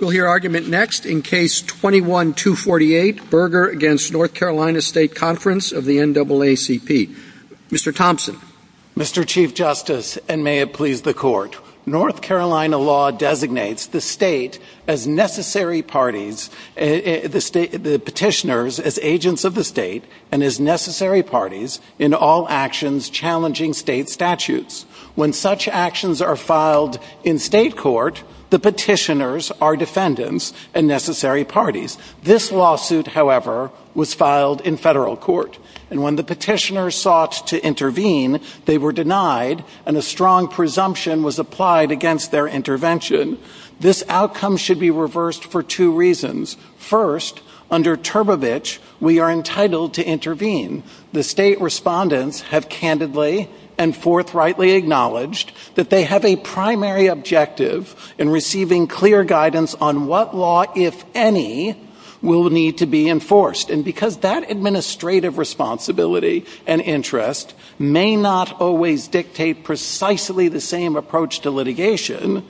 We'll hear argument next in Case 21-248, Berger v. North Carolina State Conf. of NAACP. Mr. Thompson. Mr. Chief Justice, and may it please the Court, North Carolina law designates the state as necessary parties, the petitioners as agents of the state and as necessary parties in all actions challenging state statutes. When such actions are filed in state court, the petitioners are defendants and necessary parties. This lawsuit, however, was filed in federal court, and when the petitioners sought to intervene, they were denied and a strong presumption was applied against their intervention. This outcome should be reversed for two reasons. First, under Turbovich, we are entitled to intervene. The state respondents have candidly and forthrightly acknowledged that they have a primary objective in receiving clear guidance on what law, if any, will need to be enforced. And because that administrative responsibility and interest may not always dictate precisely the same approach to litigation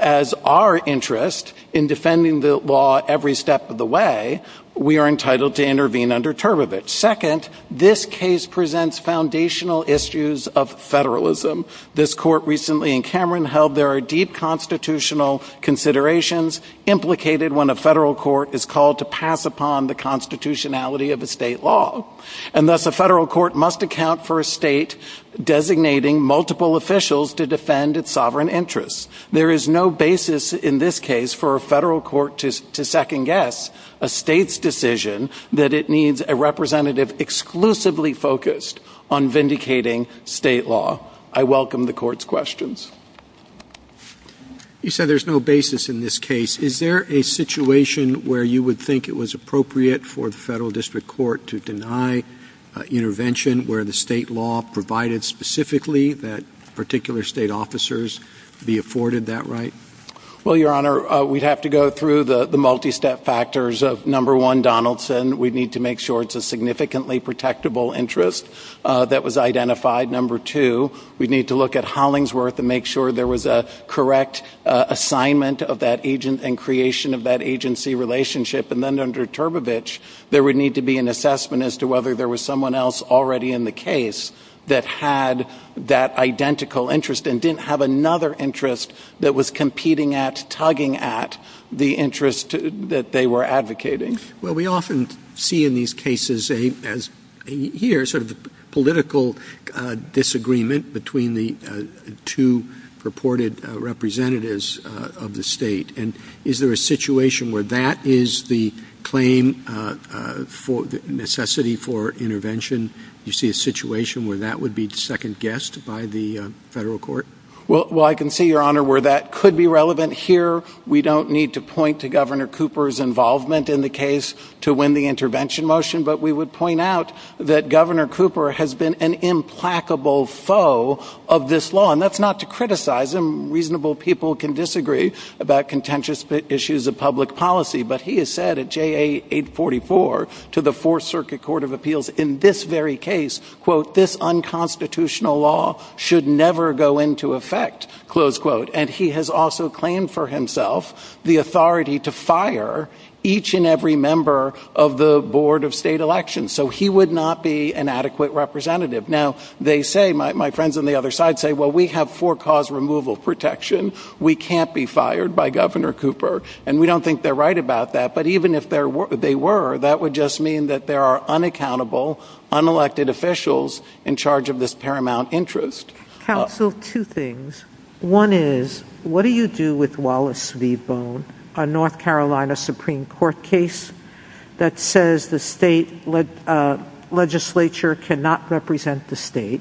as our interest in defending the law every step of the way, we are entitled to intervene under Turbovich. Second, this case presents foundational issues of federalism. This court recently in Cameron held there are deep constitutional considerations implicated when a federal court is called to pass upon the constitutionality of a state law. And thus a federal court must account for a state designating multiple officials to defend its sovereign interests. There is no basis in this case for a federal court to second-guess a state's decision that it needs a representative exclusively focused on vindicating state law. I welcome the court's questions. You said there's no basis in this case. Is there a situation where you would think it was appropriate for the federal district court to deny intervention where the state law provided specifically that particular state officers be afforded that right? Well, Your Honor, we'd have to go through the multi-step factors of, number one, Donaldson. We'd need to make sure it's a significantly protectable interest that was identified. Number two, we'd need to look at Hollingsworth and make sure there was a correct assignment of that agent and creation of that agency relationship. And then under Turbovich, there would need to be an assessment as to whether there was someone else already in the case that had that identical interest and didn't have another interest that was competing at, tugging at the interest that they were advocating. Well, we often see in these cases here sort of political disagreement between the two purported representatives of the state. And is there a situation where that is the claim for necessity for intervention? Do you see a situation where that would be second-guessed by the federal court? Well, I can see, Your Honor, where that could be relevant here. We don't need to point to Governor Cooper's involvement in the case to win the intervention motion. But we would point out that Governor Cooper has been an implacable foe of this law. And that's not to criticize him. Reasonable people can disagree about contentious issues of public policy. But he has said at JA 844 to the Fourth Circuit Court of Appeals in this very case, quote, this unconstitutional law should never go into effect, close quote. And he has also claimed for himself the authority to fire each and every member of the Board of State Elections. So he would not be an adequate representative. Now, they say, my friends on the other side say, well, we have for-cause removal protection. We can't be fired by Governor Cooper. And we don't think they're right about that. But even if they were, that would just mean that there are unaccountable, unelected officials in charge of this paramount interest. Counsel, two things. One is, what do you do with Wallace v. Bone, a North Carolina Supreme Court case that says the state legislature cannot represent the state?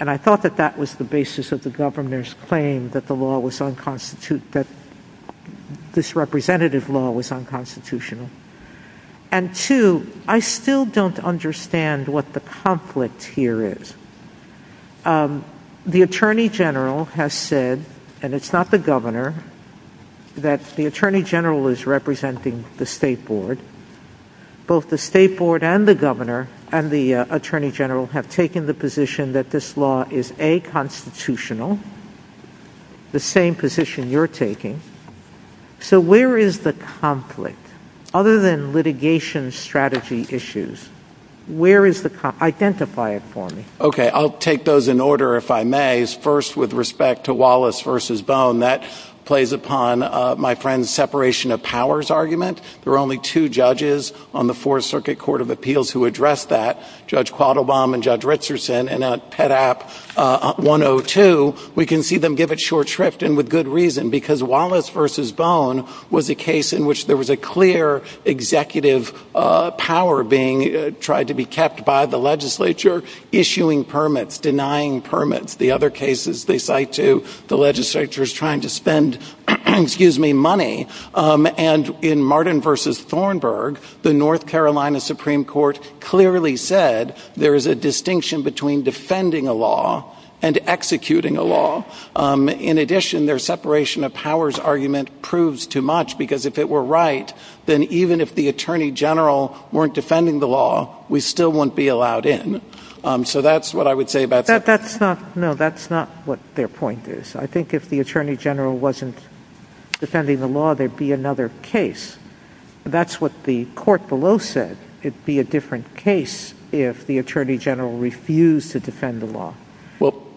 And I thought that that was the basis of the Governor's claim that the law was unconstitutional, that this representative law was unconstitutional. And two, I still don't understand what the conflict here is. The Attorney General has said, and it's not the Governor, that the Attorney General is representing the State Board. Both the State Board and the Governor and the Attorney General have taken the position that this law is unconstitutional, the same position you're taking. So where is the conflict? Other than litigation strategy issues, where is the conflict? Identify it for me. Okay, I'll take those in order if I may. First, with respect to Wallace v. Bone, that plays upon my friend's separation of powers argument. There were only two judges on the Fourth Circuit Court of Appeals who addressed that, Judge Quattlebaum and Judge Richardson. And at PEDAP 102, we can see them give it short shrift and with good reason, because Wallace v. Bone was a case in which there was a clear executive power being tried to be kept by the legislature, issuing permits, denying permits. The other cases they cite, too, the legislature is trying to spend money. And in Martin v. Thornburg, the North Carolina Supreme Court clearly said there is a distinction between defending a law and executing a law. In addition, their separation of powers argument proves too much, because if it were right, then even if the Attorney General weren't defending the law, we still wouldn't be allowed in. So that's what I would say about that. No, that's not what their point is. I think if the Attorney General wasn't defending the law, there'd be another case. That's what the court below said. It'd be a different case if the Attorney General refused to defend the law.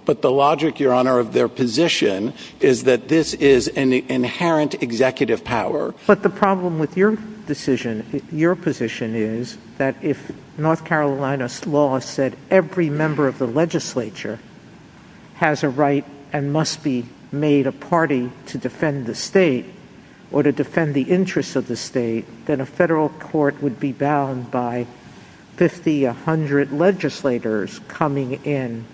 But the logic, Your Honor, of their position is that this is an inherent executive power. But the problem with your decision, your position, is that if North Carolina's law said every member of the legislature has a right and must be made a party to defend the state or to defend the interests of the state, then a federal court would be bound by 50, 100 legislators coming in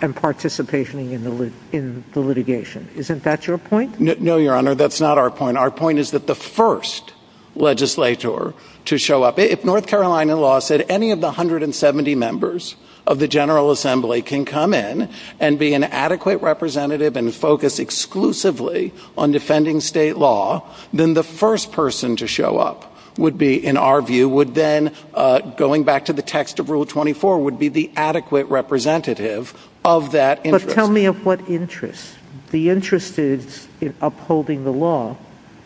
and participating in the litigation. Isn't that your point? No, Your Honor, that's not our point. Our point is that the first legislature to show up, if North Carolina law said any of the 170 members of the General Assembly can come in and be an adequate representative and focus exclusively on defending state law, then the first person to show up would be, in our view, would then, going back to the text of Rule 24, would be the adequate representative of that interest. But tell me of what interest. The interest is in upholding the law.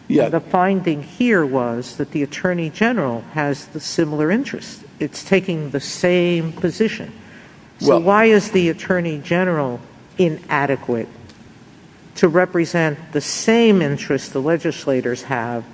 The finding here was that the Attorney General has a similar interest. It's taking the same position. So why is the Attorney General inadequate to represent the same interest the legislators have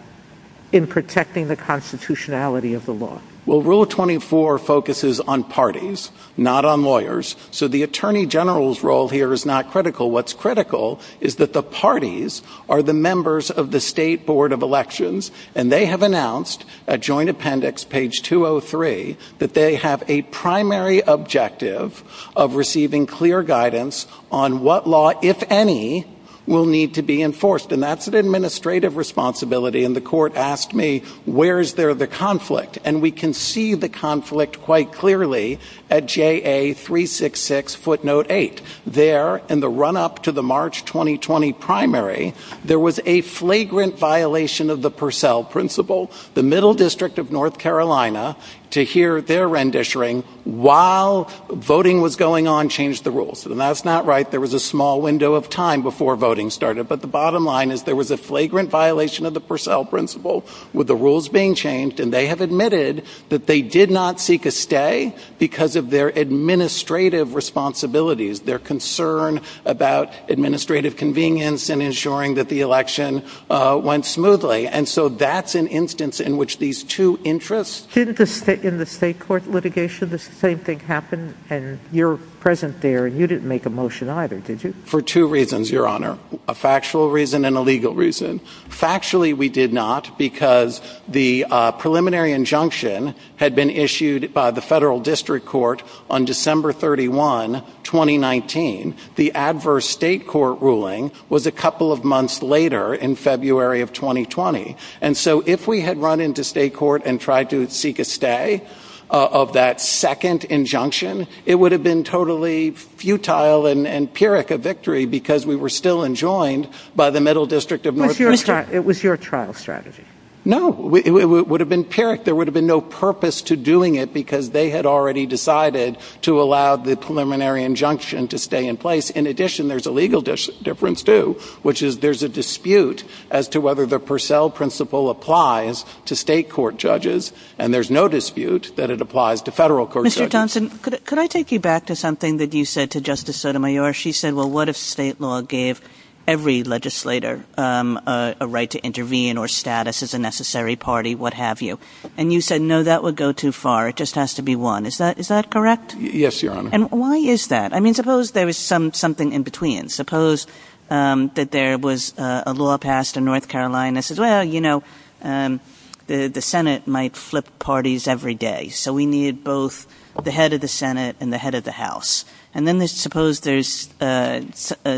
in protecting the constitutionality of the law? Well, Rule 24 focuses on parties, not on lawyers. So the Attorney General's role here is not critical. What's critical is that the parties are the members of the State Board of Elections, and they have announced at Joint Appendix, page 203, that they have a primary objective of receiving clear guidance on what law, if any, will need to be enforced. And that's an administrative responsibility. And the Court asked me, where is there the conflict? And we can see the conflict quite clearly at JA 366 footnote 8. There, in the run-up to the March 2020 primary, there was a flagrant violation of the Purcell Principle. The Middle District of North Carolina, to hear their renditioning while voting was going on, changed the rules. And that's not right. There was a small window of time before voting started. But the bottom line is there was a flagrant violation of the Purcell Principle, with the rules being changed, and they have admitted that they did not seek a stay because of their administrative responsibilities. Their concern about administrative convenience and ensuring that the election went smoothly. And so that's an instance in which these two interests. See, in the state court litigation, the same thing happened, and you're present there. You didn't make a motion either, did you? For two reasons, Your Honor, a factual reason and a legal reason. Factually, we did not because the preliminary injunction had been issued by the Federal District Court on December 31, 2019. The adverse state court ruling was a couple of months later, in February of 2020. And so if we had run into state court and tried to seek a stay of that second injunction, it would have been totally futile and pyrrhic a victory because we were still enjoined by the Middle District of North Carolina. It was your trial strategy. No, it would have been pyrrhic. There would have been no purpose to doing it because they had already decided to allow the preliminary injunction to stay in place. In addition, there's a legal difference too, which is there's a dispute as to whether the Purcell principle applies to state court judges, and there's no dispute that it applies to federal court judges. Mr. Thompson, could I take you back to something that you said to Justice Sotomayor? She said, well, what if state law gave every legislator a right to intervene or status as a necessary party, what have you? And you said, no, that would go too far. It just has to be one. Is that correct? Yes, Your Honor. And why is that? I mean, suppose there was something in between. Suppose that there was a law passed in North Carolina that says, well, you know, the Senate might flip parties every day, so we need both the head of the Senate and the head of the House. And then suppose there's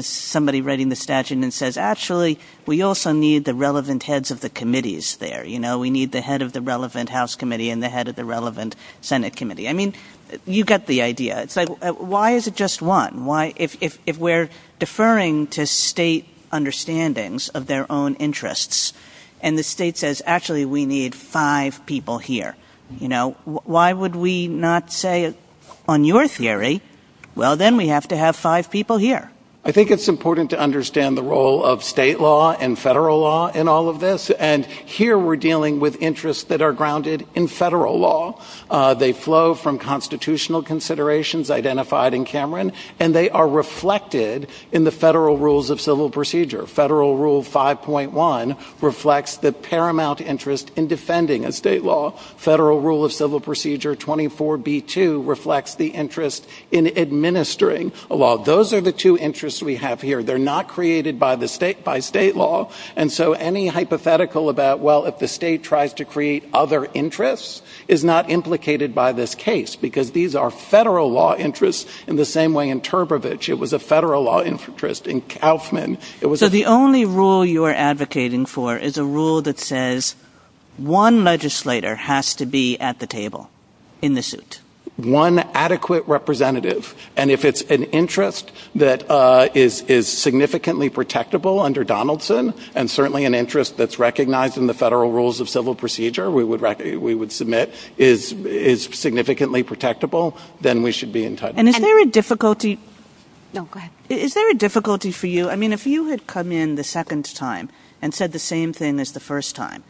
somebody writing the statute and says, actually, we also need the relevant heads of the committees there. We need the head of the relevant House committee and the head of the relevant Senate committee. I mean, you get the idea. Why is it just one? If we're deferring to state understandings of their own interests and the state says, actually, we need five people here, why would we not say on your theory, well, then we have to have five people here? I think it's important to understand the role of state law and federal law in all of this. And here we're dealing with interests that are grounded in federal law. They flow from constitutional considerations identified in Cameron, and they are reflected in the federal rules of civil procedure. Federal Rule 5.1 reflects the paramount interest in defending a state law. Federal Rule of Civil Procedure 24B2 reflects the interest in administering a law. Those are the two interests we have here. They're not created by state law, and so any hypothetical about, well, if the state tries to create other interests is not implicated by this case because these are federal law interests in the same way in Turbovich. It was a federal law interest in Kauffman. So the only rule you are advocating for is a rule that says one legislator has to be at the table in the suit. One adequate representative. And if it's an interest that is significantly protectable under Donaldson and certainly an interest that's recognized in the federal rules of civil procedure, we would submit, is significantly protectable, then we should be in touch. And is there a difficulty for you? I mean, if you had come in the second time and said the same thing as the first time,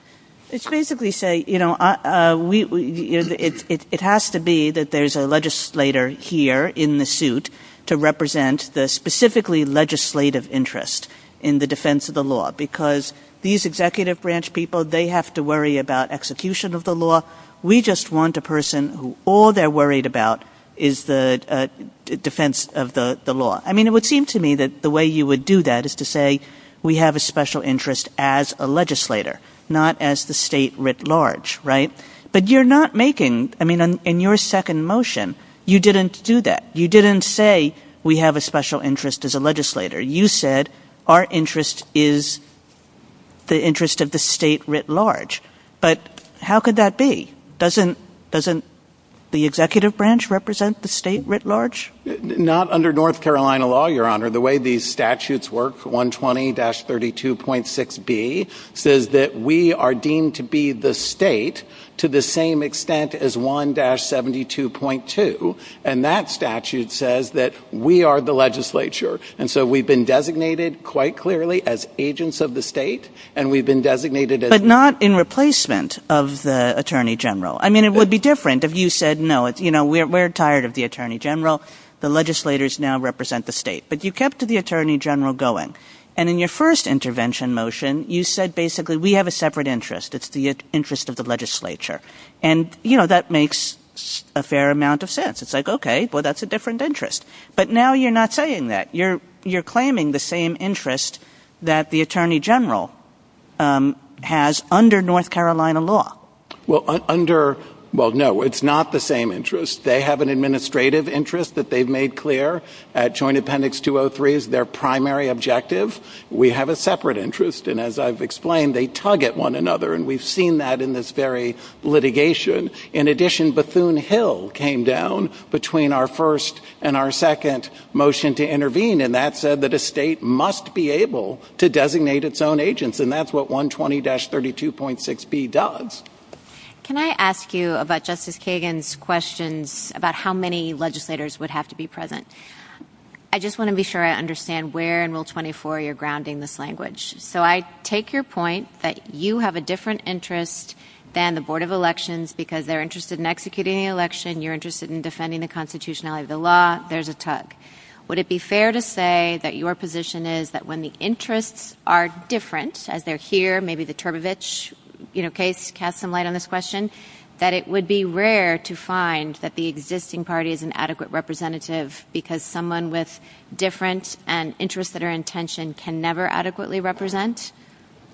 It's basically saying, you know, it has to be that there's a legislator here in the suit to represent the specifically legislative interest in the defense of the law because these executive branch people, they have to worry about execution of the law. We just want a person who all they're worried about is the defense of the law. I mean, it would seem to me that the way you would do that is to say we have a special interest as a legislator, not as the state writ large, right? But you're not making, I mean, in your second motion, you didn't do that. You didn't say we have a special interest as a legislator. You said our interest is the interest of the state writ large. But how could that be? Doesn't the executive branch represent the state writ large? Not under North Carolina law, Your Honor. The way these statutes work, 120-32.6B says that we are deemed to be the state to the same extent as 1-72.2. And that statute says that we are the legislature. And so we've been designated quite clearly as agents of the state, and we've been designated as But not in replacement of the attorney general. I mean, it would be different if you said, no, you know, we're tired of the attorney general. The legislators now represent the state. But you kept the attorney general going. And in your first intervention motion, you said basically we have a separate interest. It's the interest of the legislature. And, you know, that makes a fair amount of sense. It's like, okay, well, that's a different interest. But now you're not saying that. You're claiming the same interest that the attorney general has under North Carolina law. Well, under, well, no, it's not the same interest. They have an administrative interest that they've made clear. Joint Appendix 203 is their primary objective. We have a separate interest. And as I've explained, they tug at one another. And we've seen that in this very litigation. In addition, Bethune Hill came down between our first and our second motion to intervene. And that said that a state must be able to designate its own agents. And that's what 120-32.6B does. Can I ask you about Justice Kagan's questions about how many legislators would have to be present? I just want to be sure I understand where in Rule 24 you're grounding this language. So I take your point that you have a different interest than the Board of Elections because they're interested in executing an election. You're interested in defending the constitutionality of the law. There's a tug. Would it be fair to say that your position is that when the interests are different, as they're here, maybe the Turbevich case casts some light on this question, that it would be rare to find that the existing party is an adequate representative because someone with different interests that are in tension can never adequately represent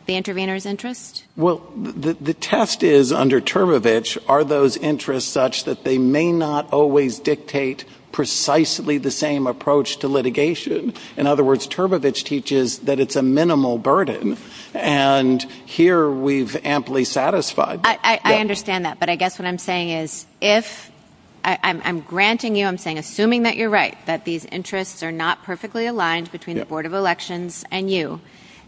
the intervener's interest? Well, the test is under Turbevich, are those interests such that they may not always dictate precisely the same approach to litigation? In other words, Turbevich teaches that it's a minimal burden. And here we've amply satisfied. I understand that. But I guess what I'm saying is if I'm granting you, I'm saying assuming that you're right, that these interests are not perfectly aligned between the Board of Elections and you,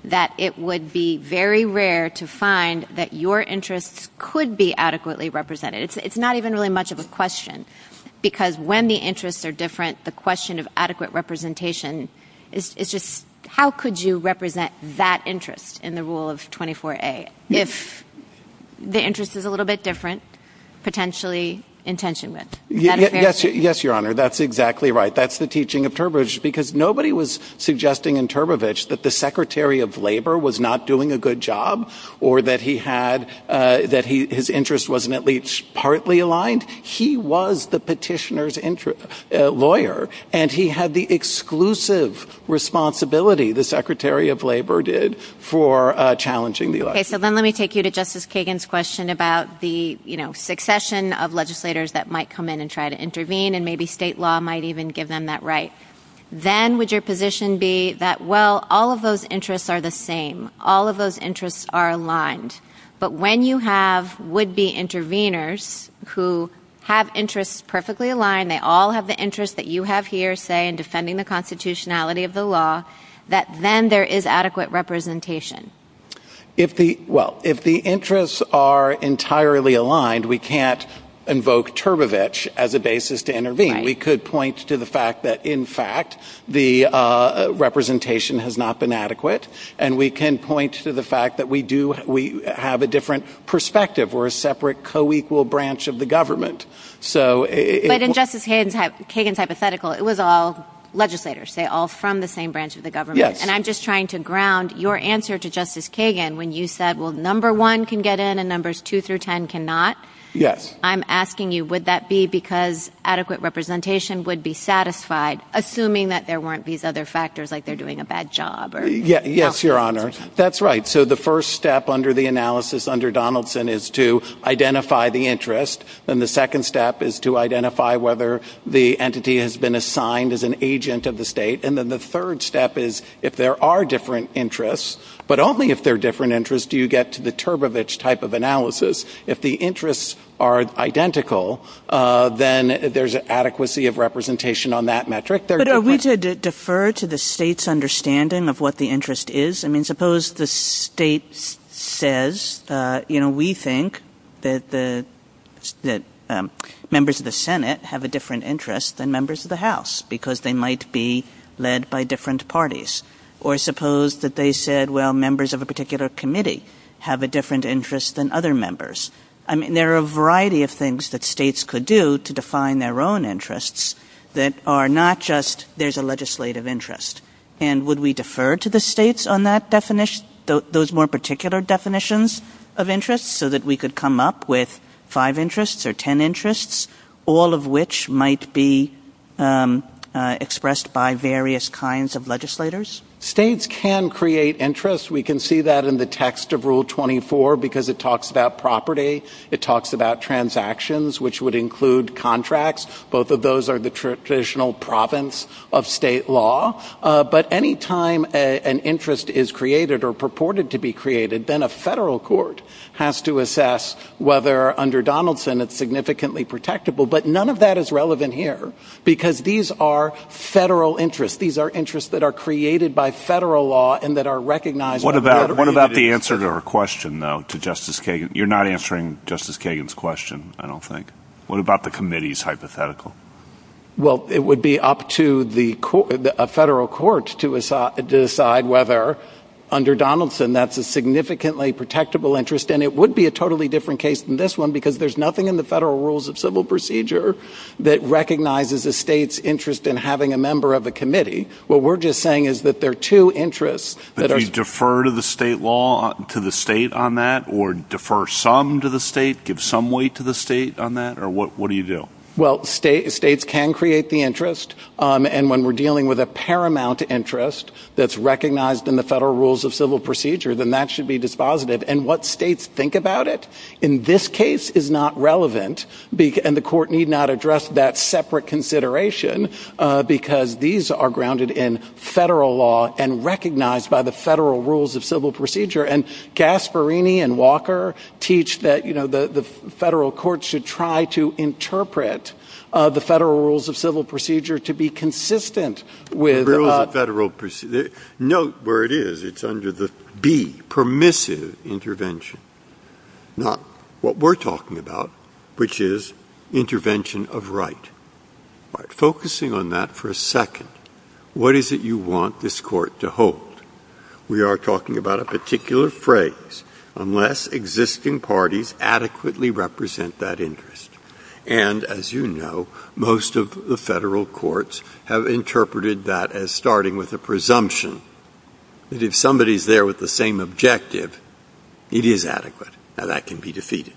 that it would be very rare to find that your interests could be adequately represented. It's not even really much of a question because when the interests are different, the question of adequate representation is just how could you represent that interest in the rule of 24A if the interest is a little bit different, potentially in tension with? Yes, Your Honor, that's exactly right. That's the teaching of Turbevich because nobody was suggesting in Turbevich that the Secretary of Labor was not doing a good job or that his interest wasn't at least partly aligned. He was the petitioner's lawyer, and he had the exclusive responsibility, the Secretary of Labor did, for challenging the election. Okay, so then let me take you to Justice Kagan's question about the succession of legislators that might come in and try to intervene, and maybe state law might even give them that right. Then would your position be that, well, all of those interests are the same, all of those interests are aligned, but when you have would-be interveners who have interests perfectly aligned, they all have the interests that you have here, say, in defending the constitutionality of the law, that then there is adequate representation? Well, if the interests are entirely aligned, we can't invoke Turbevich as a basis to intervene. We could point to the fact that, in fact, the representation has not been adequate, and we can point to the fact that we do have a different perspective. We're a separate, co-equal branch of the government. But in Justice Kagan's hypothetical, it was all legislators. They're all from the same branch of the government. And I'm just trying to ground your answer to Justice Kagan when you said, well, number one can get in and numbers two through ten cannot. Yes. I'm asking you, would that be because adequate representation would be satisfied, assuming that there weren't these other factors, like they're doing a bad job? Yes, Your Honor. That's right. So the first step under the analysis under Donaldson is to identify the interest, and the second step is to identify whether the entity has been assigned as an agent of the state. And then the third step is, if there are different interests, but only if there are different interests do you get to the Turbevich type of analysis. If the interests are identical, then there's an adequacy of representation on that metric. But are we to defer to the state's understanding of what the interest is? I mean, suppose the state says, you know, we think that members of the Senate have a different interest than members of the House because they might be led by different parties. Or suppose that they said, well, members of a particular committee have a different interest than other members. I mean, there are a variety of things that states could do to define their own interests that are not just there's a legislative interest. And would we defer to the states on those more particular definitions of interests so that we could come up with five interests or ten interests, all of which might be expressed by various kinds of legislators? States can create interests. We can see that in the text of Rule 24 because it talks about property. It talks about transactions, which would include contracts. Both of those are the traditional province of state law. But any time an interest is created or purported to be created, then a federal court has to assess whether, under Donaldson, it's significantly protectable. But none of that is relevant here because these are federal interests. These are interests that are created by federal law and that are recognized by federal law. What about the answer to her question, though, to Justice Kagan? You're not answering Justice Kagan's question, I don't think. What about the committee's hypothetical? Well, it would be up to a federal court to decide whether, under Donaldson, that's a significantly protectable interest. And it would be a totally different case than this one because there's nothing in the Federal Rules of Civil Procedure that recognizes a state's interest in having a member of a committee. What we're just saying is that there are two interests. Would we defer to the state on that or defer some to the state, give some weight to the state on that, or what do you do? Well, states can create the interest, and when we're dealing with a paramount interest that's recognized in the Federal Rules of Civil Procedure, then that should be dispositive. And what states think about it in this case is not relevant, and the court need not address that separate consideration because these are grounded in federal law and recognized by the Federal Rules of Civil Procedure. And Gasparini and Walker teach that, you know, the federal court should try to interpret the Federal Rules of Civil Procedure to be consistent with... Note where it is. It's under the B, permissive intervention, not what we're talking about, which is intervention of right. Focusing on that for a second, what is it you want this court to hold? We are talking about a particular phrase, unless existing parties adequately represent that interest. And, as you know, most of the federal courts have interpreted that as starting with a presumption that if somebody's there with the same objective, it is adequate, and that can be defeated.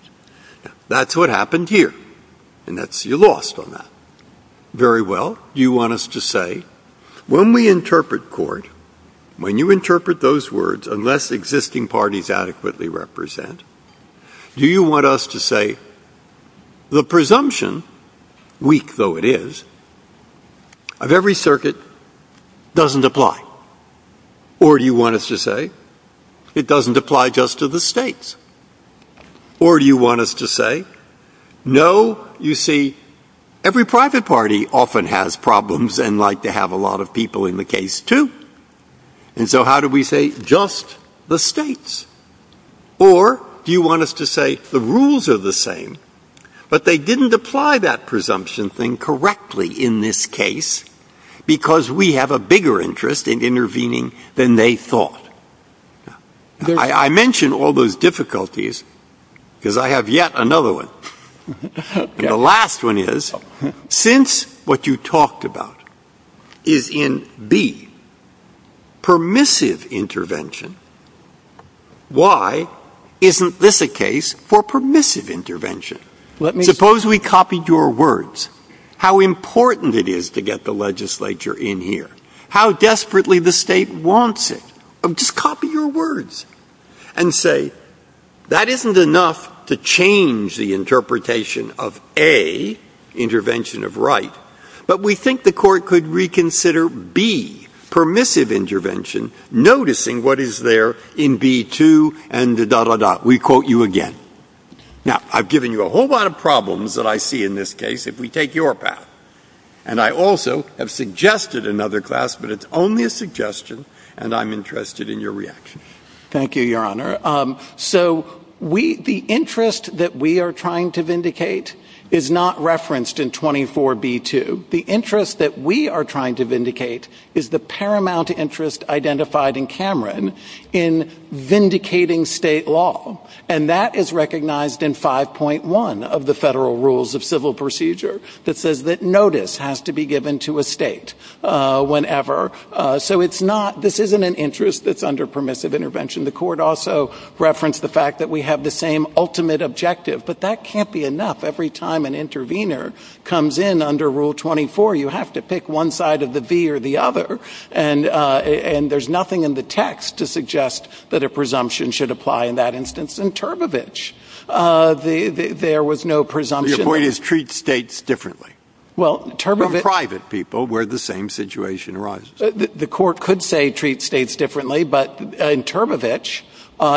That's what happened here, and you're lost on that. Very well, you want us to say, when we interpret court, when you interpret those words, unless existing parties adequately represent, do you want us to say the presumption, weak though it is, of every circuit doesn't apply? Or do you want us to say it doesn't apply just to the states? Or do you want us to say, no, you see, every private party often has problems and like to have a lot of people in the case, too. And so how do we say just the states? Or do you want us to say the rules are the same, but they didn't apply that presumption thing correctly in this case because we have a bigger interest in intervening than they thought? I mention all those difficulties because I have yet another one. The last one is, since what you talked about is in B, permissive intervention, why isn't this a case for permissive intervention? Suppose we copied your words. How important it is to get the legislature in here. How desperately the state wants it. Just copy your words and say, That isn't enough to change the interpretation of A, intervention of right, but we think the court could reconsider B, permissive intervention, noticing what is there in B2 and da-da-da-da. We quote you again. Now, I've given you a whole lot of problems that I see in this case if we take your path. And I also have suggested another class, but it's only a suggestion, and I'm interested in your reaction. Thank you, Your Honor. So the interest that we are trying to vindicate is not referenced in 24B2. The interest that we are trying to vindicate is the paramount interest identified in Cameron in vindicating state law, and that is recognized in 5.1 of the Federal Rules of Civil Procedure that says that notice has to be given to a state whenever. So this isn't an interest that's under permissive intervention. The court also referenced the fact that we have the same ultimate objective, but that can't be enough. Every time an intervener comes in under Rule 24, you have to pick one side of the V or the other, and there's nothing in the text to suggest that a presumption should apply in that instance. In Turbevich, there was no presumption. The point is treat states differently. Well, Turbevich From private people where the same situation arises. The court could say treat states differently, but in Turbevich,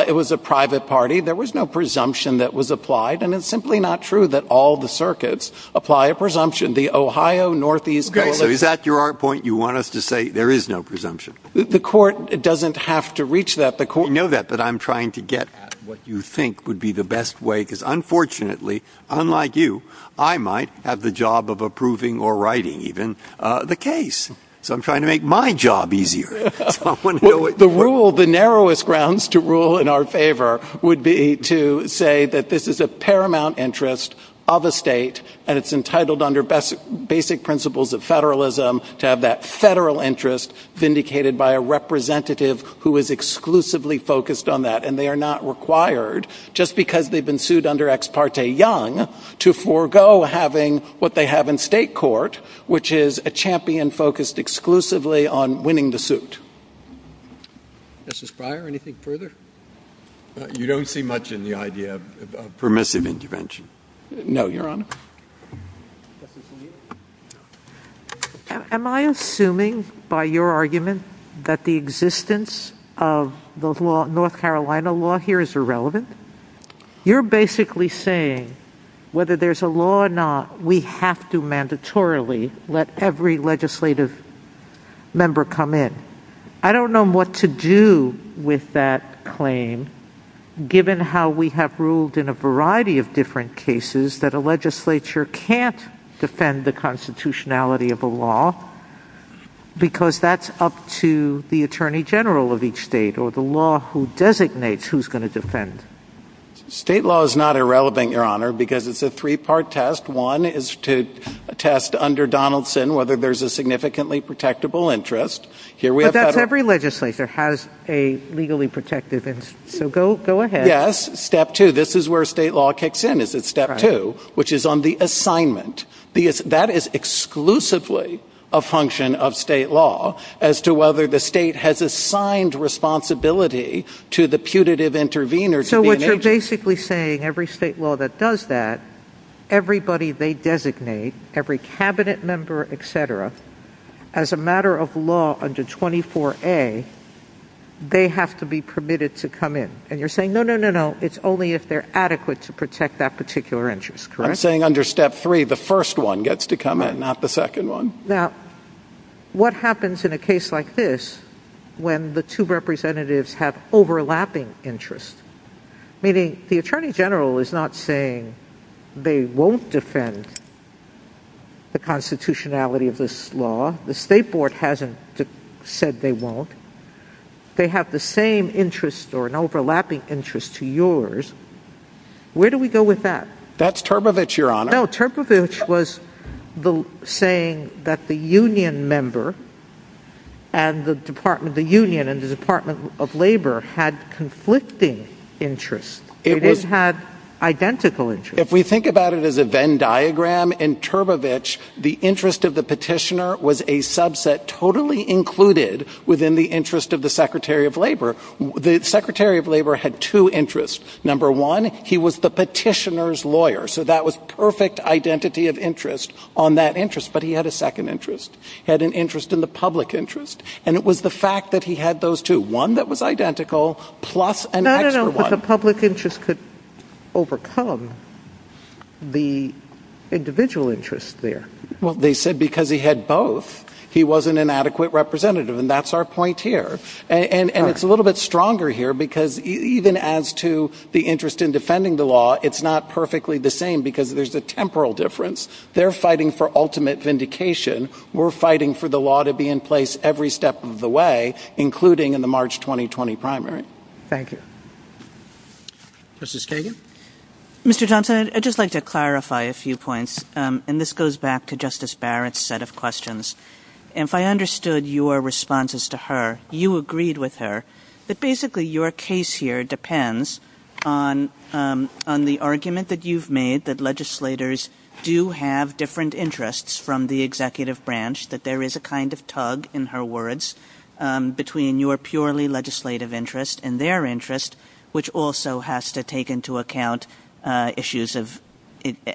it was a private party. There was no presumption that was applied, and it's simply not true that all the circuits apply a presumption. The Ohio, Northeast, Okay, so is that your point? You want us to say there is no presumption? The court doesn't have to reach that. You know that, but I'm trying to get at what you think would be the best way because, unfortunately, unlike you, I might have the job of approving or writing even the case. So I'm trying to make my job easier. The narrowest grounds to rule in our favor would be to say that this is a paramount interest of a state, and it's entitled under basic principles of federalism to have that federal interest vindicated by a representative who is exclusively focused on that, and they are not required, just because they've been sued under Ex parte Young, to forego having what they have in state court, which is a champion focused exclusively on winning the suit. Mr. Spryer, anything further? You don't see much in the idea of permissive intervention. No, Your Honor. Am I assuming by your argument that the existence of the North Carolina law here is irrelevant? You're basically saying whether there's a law or not, we have to mandatorily let every legislative member come in. I don't know what to do with that claim, given how we have ruled in a variety of different cases that a legislature can't defend the constitutionality of a law, because that's up to the attorney general of each state or the law who designates who's going to defend. State law is not irrelevant, Your Honor, because it's a three-part test. One is to test under Donaldson whether there's a significantly protectable interest. But that's every legislature has a legally protected interest, so go ahead. Yes, step two. This is where state law kicks in, is at step two, which is on the assignment. That is exclusively a function of state law as to whether the state has assigned responsibility to the putative intervener. So what you're basically saying, every state law that does that, everybody they designate, every cabinet member, etc., as a matter of law under 24A, they have to be permitted to come in. And you're saying, no, no, no, no, it's only if they're adequate to protect that particular interest, correct? I'm saying under step three, the first one gets to come in, not the second one. Now, what happens in a case like this when the two representatives have overlapping interests? Meaning, the attorney general is not saying they won't defend the constitutionality of this law. The state board hasn't said they won't. They have the same interest or an overlapping interest to yours. Where do we go with that? That's Turbovich, Your Honor. No, Turbovich was saying that the union member and the Department of Labor had conflicting interests. It had identical interests. If we think about it as a Venn diagram, in Turbovich, the interest of the petitioner was a subset totally included within the interest of the Secretary of Labor. The Secretary of Labor had two interests. Number one, he was the petitioner's lawyer. So that was perfect identity of interest on that interest. But he had a second interest. He had an interest in the public interest. And it was the fact that he had those two, one that was identical, plus an extra one. So this could overcome the individual interest there. Well, they said because he had both, he wasn't an adequate representative. And that's our point here. And it's a little bit stronger here because even as to the interest in defending the law, it's not perfectly the same because there's a temporal difference. They're fighting for ultimate vindication. We're fighting for the law to be in place every step of the way, including in the March 2020 primary. All right. Thank you. Justice Kagan? Mr. Thompson, I'd just like to clarify a few points. And this goes back to Justice Barrett's set of questions. If I understood your responses to her, you agreed with her that basically your case here depends on the argument that you've made that legislators do have different interests from the executive branch, that there is a kind of tug, in her words, between your purely legislative interest and their interest, which also has to take into account issues of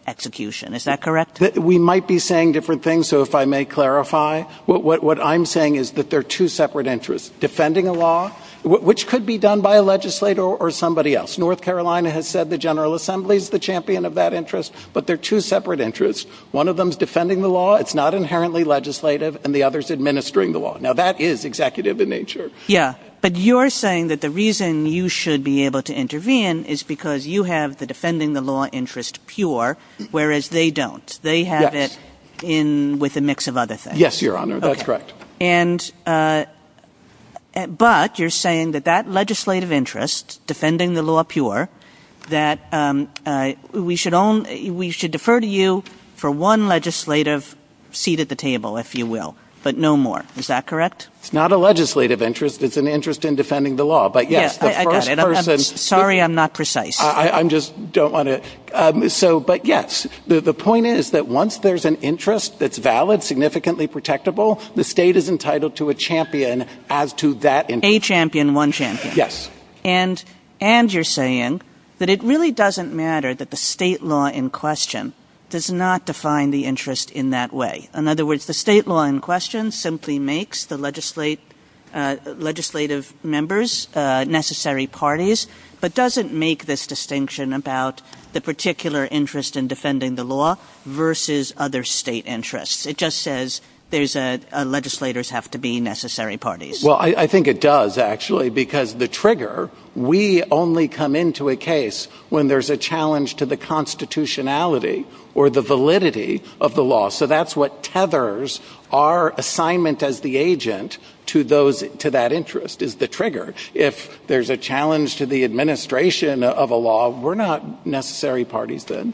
execution. Is that correct? We might be saying different things. So if I may clarify, what I'm saying is that there are two separate interests, defending a law, which could be done by a legislator or somebody else. North Carolina has said the General Assembly is the champion of that interest. But there are two separate interests. One of them is defending the law. It's not inherently legislative. And the other is administering the law. Now, that is executive in nature. Yeah. But you're saying that the reason you should be able to intervene is because you have the defending the law interest pure, whereas they don't. They have it with a mix of other things. Yes, Your Honor. That's correct. But you're saying that that legislative interest, defending the law pure, that we should defer to you for one legislative seat at the table, if you will, but no more. Is that correct? It's not a legislative interest. It's an interest in defending the law. Sorry, I'm not precise. I just don't want to. But, yes, the point is that once there's an interest that's valid, significantly protectable, the state is entitled to a champion as to that interest. A champion, one champion. Yes. And you're saying that it really doesn't matter that the state law in question does not define the interest in that way. In other words, the state law in question simply makes the legislative members necessary parties, but doesn't make this distinction about the particular interest in defending the law versus other state interests. It just says legislators have to be necessary parties. Well, I think it does, actually, because the trigger, we only come into a case when there's a challenge to the constitutionality or the validity of the law. So that's what tethers our assignment as the agent to that interest is the trigger. If there's a challenge to the administration of a law, we're not necessary parties then.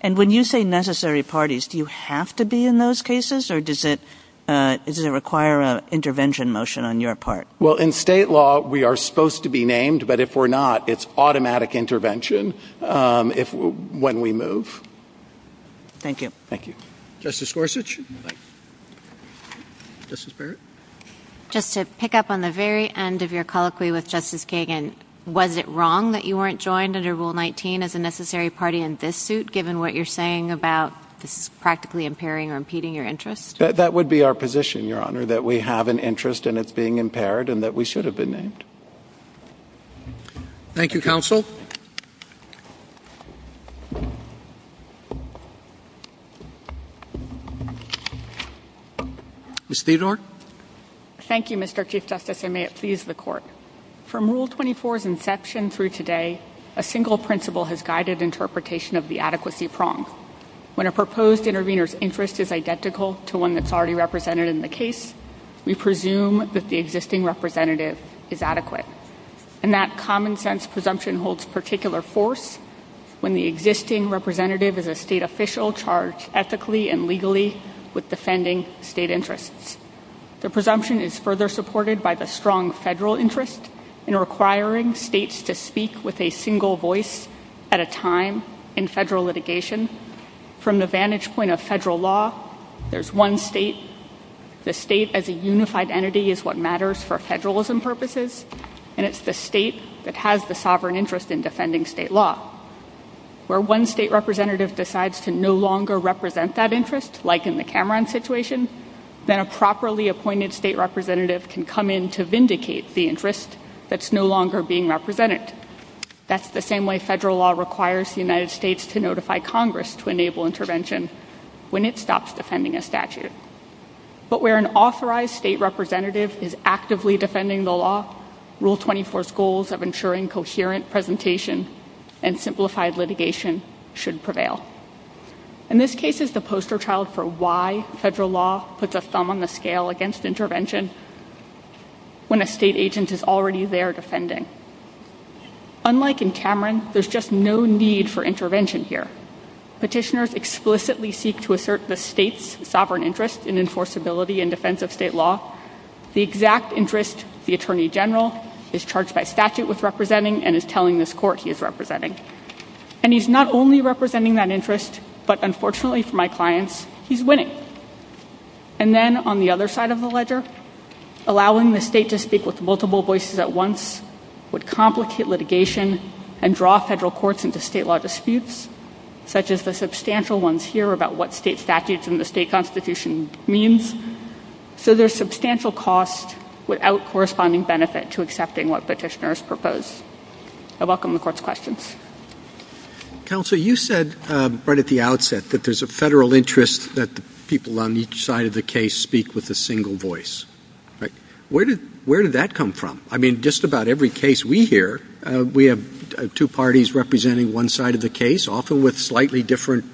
And when you say necessary parties, do you have to be in those cases, or does it require an intervention motion on your part? Well, in state law, we are supposed to be named, but if we're not, it's automatic intervention when we move. Thank you. Thank you. Justice Gorsuch. Justice Barrett. Just to pick up on the very end of your colloquy with Justice Kagan, was it wrong that you weren't joined under Rule 19 as a necessary party in this suit, given what you're saying about this practically impairing or impeding your interest? That would be our position, Your Honor, that we have an interest, and it's being impaired, and that we should have been named. Thank you, counsel. Ms. Theodore. Thank you, Mr. Chief Justice, and may it please the Court. From Rule 24's inception through today, a single principle has guided interpretation of the adequacy prong. When a proposed intervener's interest is identical to one that's already represented in the case, we presume that the existing representative is adequate. And that common-sense presumption holds particular force when the existing representative is a state official charged ethically and legally with defending state interests. The presumption is further supported by the strong federal interest in requiring states to speak with a single voice at a time in federal litigation. From the vantage point of federal law, there's one state. The state as a unified entity is what matters for federalism purposes, and it's the state that has the sovereign interest in defending state law. Where one state representative decides to no longer represent that interest, like in the Cameron situation, then a properly appointed state representative can come in to vindicate the interest that's no longer being represented. That's the same way federal law requires the United States to notify Congress to enable intervention when it stops defending a statute. But where an authorized state representative is actively defending the law, Rule 24's goals of ensuring coherent presentation and simplified litigation should prevail. In this case, it's a poster child for why federal law puts a thumb on the scale against intervention when a state agent is already there defending. Unlike in Cameron, there's just no need for intervention here. Petitioners explicitly seek to assert the state's sovereign interest in enforceability and defense of state law. The exact interest the Attorney General is charged by statute with representing and is telling this court he is representing. And he's not only representing that interest, but unfortunately for my clients, he's winning. And then on the other side of the ledger, allowing the state to speak with multiple voices at once would complicate litigation and draw federal courts into state law disputes, such as the substantial ones here about what state statutes and the state constitution means. So there's substantial cost without corresponding benefit to accepting what petitioners propose. I welcome the court's questions. Counsel, you said right at the outset that there's a federal interest that people on each side of the case speak with a single voice. But where did that come from? I mean, just about every case we hear, we have two parties representing one side of the case, often with slightly different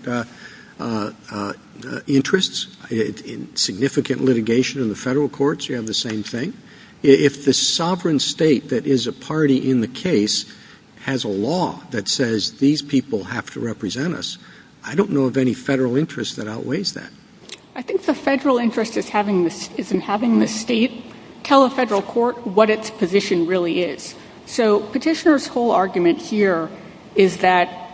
interests. In significant litigation in the federal courts, you have the same thing. If the sovereign state that is a party in the case has a law that says these people have to represent us, I don't know of any federal interest that outweighs that. I think the federal interest is in having the state tell a federal court what its position really is. So petitioner's whole argument here is that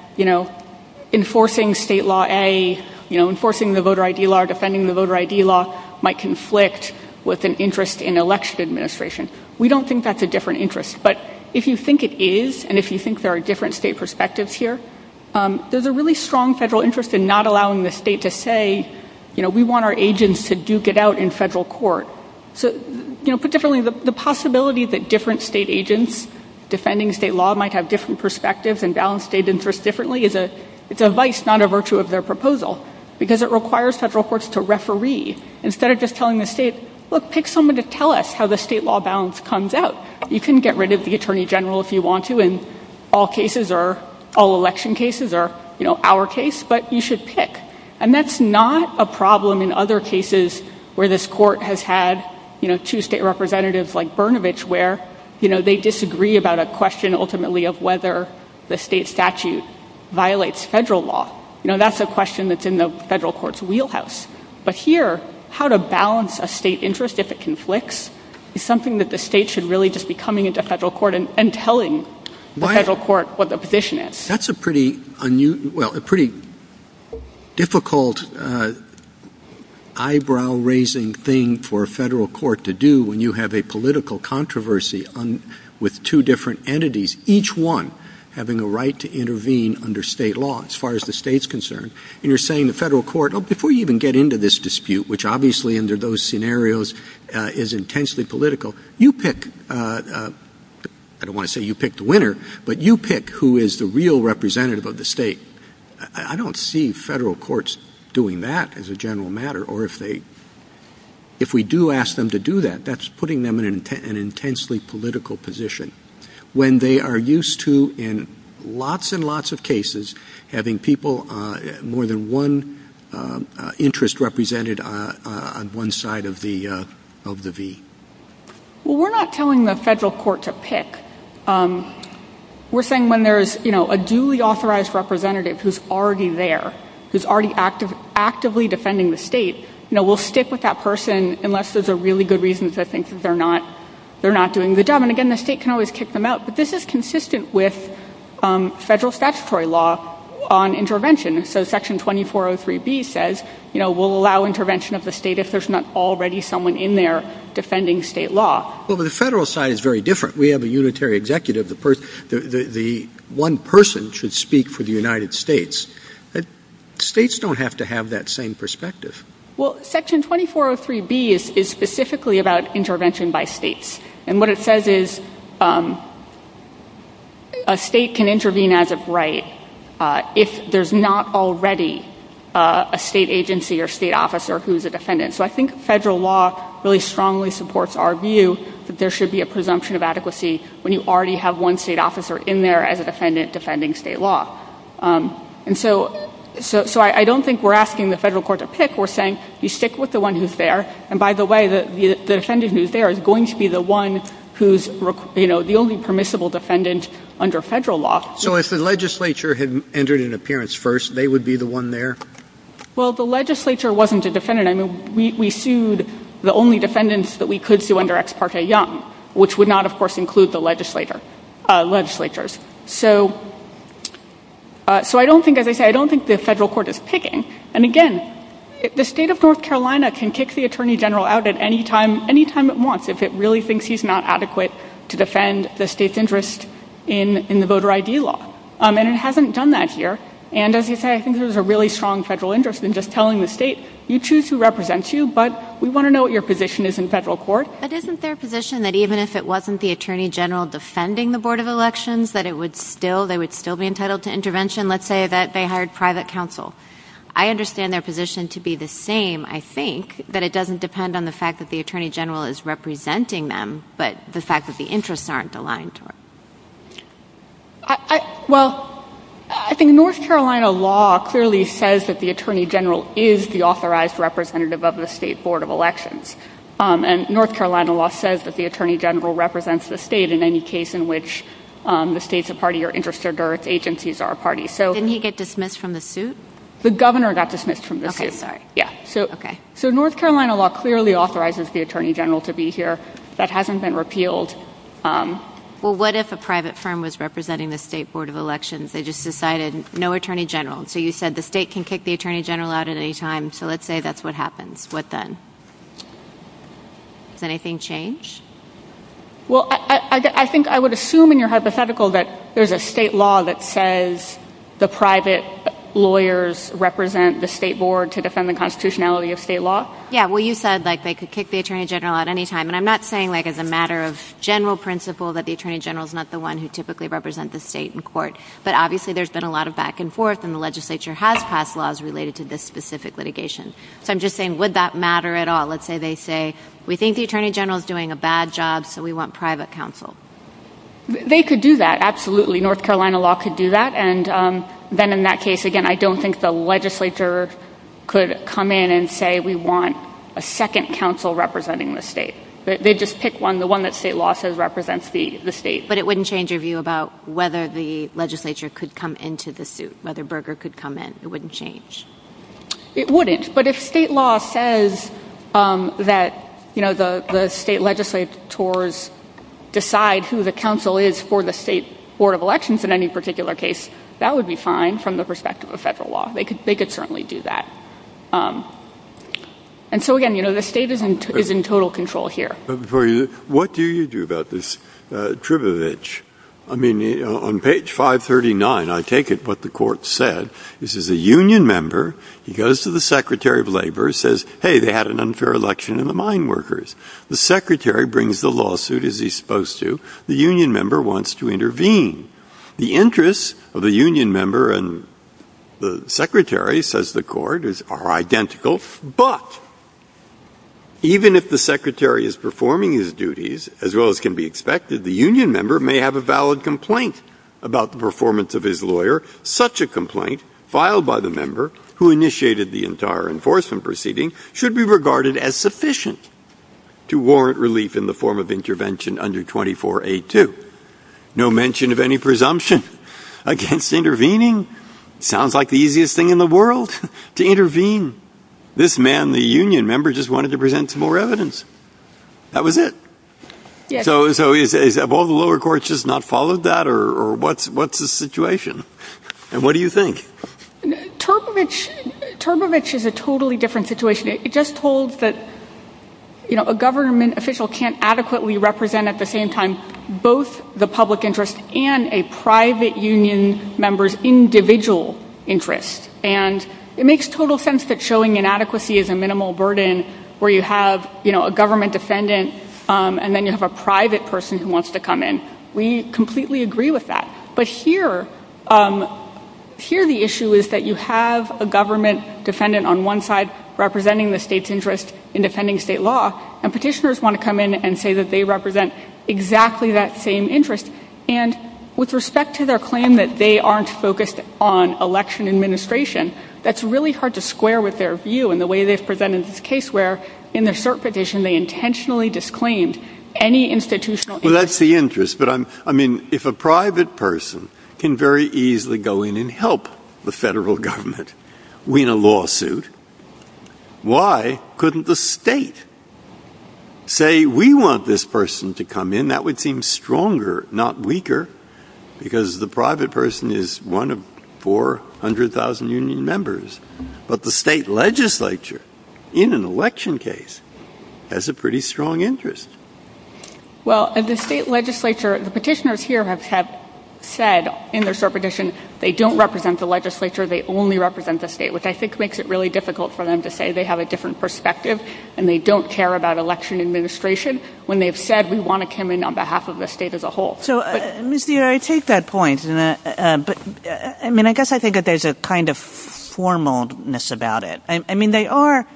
enforcing state law A, enforcing the voter ID law, or defending the voter ID law might conflict with an interest in election administration. We don't think that's a different interest. But if you think it is, and if you think there are different state perspectives here, there's a really strong federal interest in not allowing the state to say, you know, we want our agents to duke it out in federal court. So, you know, put differently, the possibility that different state agents defending state law might have different perspectives and balance state interests differently is a vice, not a virtue of their proposal, because it requires federal courts to referee. Instead of just telling the state, look, pick someone to tell us how the state law balance comes out. You can get rid of the attorney general if you want to in all cases or all election cases or, you know, our case, but you should pick. And that's not a problem in other cases where this court has had, you know, two state representatives like Brnovich, where, you know, they disagree about a question ultimately of whether the state statute violates federal law. You know, that's a question that's in the federal court's wheelhouse. But here, how to balance a state interest if it conflicts is something that the state should really just be coming into federal court and telling the federal court what the position is. That's a pretty difficult eyebrow-raising thing for a federal court to do when you have a political controversy with two different entities, each one having a right to intervene under state law as far as the state's concerned. And you're saying the federal court, oh, before you even get into this dispute, which obviously under those scenarios is intensely political, you pick, I don't want to say you pick the winner, but you pick who is the real representative of the state. I don't see federal courts doing that as a general matter or if they, if we do ask them to do that, that's putting them in an intensely political position. When they are used to in lots and lots of cases having people, more than one interest represented on one side of the V. Well, we're not telling the federal court to pick. We're saying when there's, you know, a duly authorized representative who's already there, who's already actively defending the state, you know, we'll stick with that person unless there's a really good reason to think that they're not doing a good job. And again, the state can always kick them out, but this is consistent with federal statutory law on intervention. So Section 2403B says, you know, we'll allow intervention of the state if there's not already someone in there defending state law. Well, but the federal side is very different. We have a unitary executive, the one person should speak for the United States. States don't have to have that same perspective. Well, Section 2403B is specifically about intervention by states. And what it says is a state can intervene as of right if there's not already a state agency or state officer who's a defendant. So I think federal law really strongly supports our view that there should be a presumption of adequacy when you already have one state officer in there as a defendant defending state law. And so I don't think we're asking the federal court to pick. We're saying you stick with the one who's there. And by the way, the defendant who's there is going to be the one who's, you know, the only permissible defendant under federal law. So if the legislature had entered an appearance first, they would be the one there? Well, the legislature wasn't a defendant. I mean, we sued the only defendants that we could sue under Ex parte Young, which would not, of course, include the legislatures. So I don't think, as I say, I don't think the federal court is picking. And again, the state of North Carolina can kick the attorney general out at any time it wants if it really thinks he's not adequate to defend the state's interest in the voter ID law. And it hasn't done that here. And as you say, I think there's a really strong federal interest in just telling the state, you choose who represents you, but we want to know what your position is in federal court. But isn't there a position that even if it wasn't the attorney general defending the board of elections, that it would still, they would still be entitled to intervention? Let's say that they hired private counsel. I understand their position to be the same, I think, but it doesn't depend on the fact that the attorney general is representing them, but the fact that the interests aren't aligned to it. Well, I think North Carolina law clearly says that the attorney general is the authorized representative of the state board of elections. And North Carolina law says that the attorney general represents the state in any case in which the state's a party or interested or its agencies are a party. Didn't he get dismissed from the suit? The governor got dismissed from the suit. Okay. So North Carolina law clearly authorizes the attorney general to be here. That hasn't been repealed. Well, what if a private firm was representing the state board of elections? They just decided no attorney general. So you said the state can kick the attorney general out at any time. So let's say that's what happens. What then? Has anything changed? Well, I think I would assume in your hypothetical that there's a state law that says the private lawyers represent the state board to defend the constitutionality of state law. Yeah, well, you said, like, they could kick the attorney general out at any time. And I'm not saying, like, as a matter of general principle that the attorney general is not the one who typically represents the state in court. But obviously there's been a lot of back and forth, and the legislature has passed laws related to this specific litigation. So I'm just saying, would that matter at all? Let's say they say, we think the attorney general is doing a bad job, so we want private counsel. They could do that, absolutely. North Carolina law could do that. And then in that case, again, I don't think the legislature could come in and say we want a second counsel representing the state. They'd just pick one, the one that state law says represents the state. But it wouldn't change your view about whether the legislature could come into the suit, whether Berger could come in. It wouldn't change. It wouldn't. But if state law says that the state legislators decide who the counsel is for the state board of elections in any particular case, that would be fine from the perspective of federal law. They could certainly do that. And so, again, the state is in total control here. What do you do about this, Tribovich? I mean, on page 539, I take it what the court said, this is a union member. He goes to the secretary of labor and says, hey, they had an unfair election in the mine workers. The secretary brings the lawsuit, as he's supposed to. The union member wants to intervene. The interests of the union member and the secretary, says the court, are identical. But even if the secretary is performing his duties as well as can be expected, the union member may have a valid complaint about the performance of his lawyer, such a complaint, filed by the member who initiated the entire enforcement proceeding, should be regarded as sufficient to warrant relief in the form of intervention under 24A2. No mention of any presumption against intervening. Sounds like the easiest thing in the world to intervene. This man, the union member, just wanted to present some more evidence. That was it. So have all the lower courts just not followed that, or what's the situation? What do you think? Tribovich is a totally different situation. It just holds that a government official can't adequately represent at the same time both the public interest and a private union member's individual interest. And it makes total sense that showing inadequacy is a minimal burden, where you have a government defendant and then you have a private person who wants to come in. We completely agree with that. But here the issue is that you have a government defendant on one side representing the state's interest in defending state law, and petitioners want to come in and say that they represent exactly that same interest. And with respect to their claim that they aren't focused on election administration, that's really hard to square with their view in the way they've presented this case, where in the cert petition they intentionally disclaimed any institutional interest. Well, that's the interest. But, I mean, if a private person can very easily go in and help the federal government win a lawsuit, why couldn't the state say, we want this person to come in? And that would seem stronger, not weaker, because the private person is one of 400,000 union members. But the state legislature, in an election case, has a pretty strong interest. Well, the state legislature, the petitioners here have said in their cert petition, they don't represent the legislature, they only represent the state, which I think makes it really difficult for them to say they have a different perspective and they don't care about election administration, when they've said we want to come in on behalf of the state as a whole. So, Ms. Neal, I take that point. But, I mean, I guess I think that there's a kind of formalness about it. I mean, they are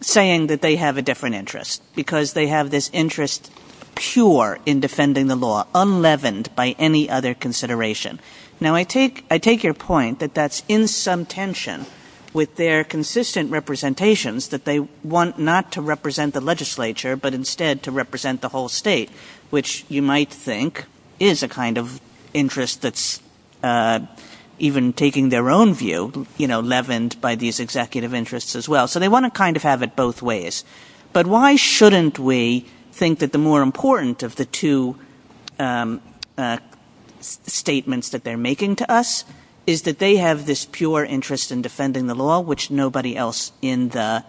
saying that they have a different interest, because they have this interest pure in defending the law, unleavened by any other consideration. Now, I take your point that that's in some tension with their consistent representations that they want not to represent the legislature, but instead to represent the whole state, which you might think is a kind of interest that's even taking their own view, you know, leavened by these executive interests as well. So they want to kind of have it both ways. But why shouldn't we think that the more important of the two statements that they're making to us is that they have this pure interest in defending the law, which nobody else in the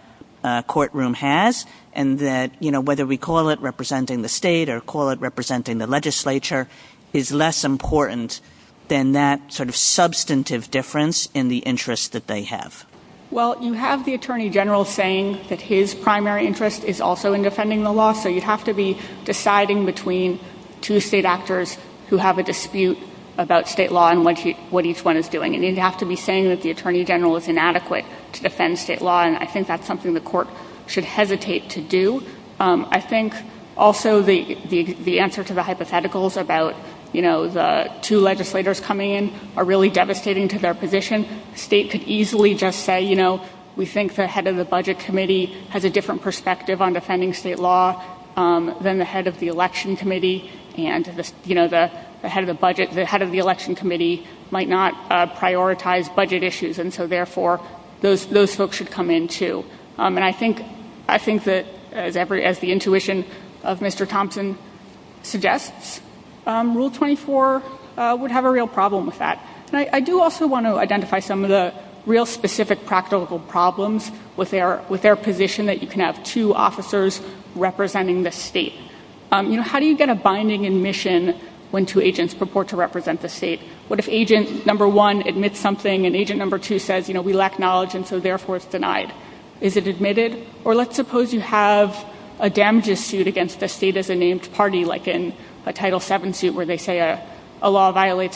courtroom has, and that, you know, whether we call it representing the state or call it representing the legislature, is less important than that sort of substantive difference in the interest that they have? Well, you have the Attorney General saying that his primary interest is also in defending the law, so you'd have to be deciding between two state actors who have a dispute about state law on what each one is doing. And you'd have to be saying that the Attorney General is inadequate to defend state law, and I think that's something the court should hesitate to do. I think also the answer to the hypotheticals about, you know, the two legislators coming in are really devastating to their position. The state could easily just say, you know, we think the head of the Budget Committee has a different perspective on defending state law than the head of the Election Committee, and, you know, the head of the Budget Committee might not prioritize budget issues, and so, therefore, those folks should come in, too. And I think that, as the intuition of Mr. Thompson suggests, Rule 24 would have a real problem with that. I do also want to identify some of the real specific practical problems with their position, that you can have two officers representing the state. You know, how do you get a binding admission when two agents purport to represent the state? What if agent number one admits something, and agent number two says, you know, we lack knowledge, and so, therefore, it's denied? Is it admitted? Or let's suppose you have a damages suit against the state-as-a-name party, like in a Title VII suit where they say a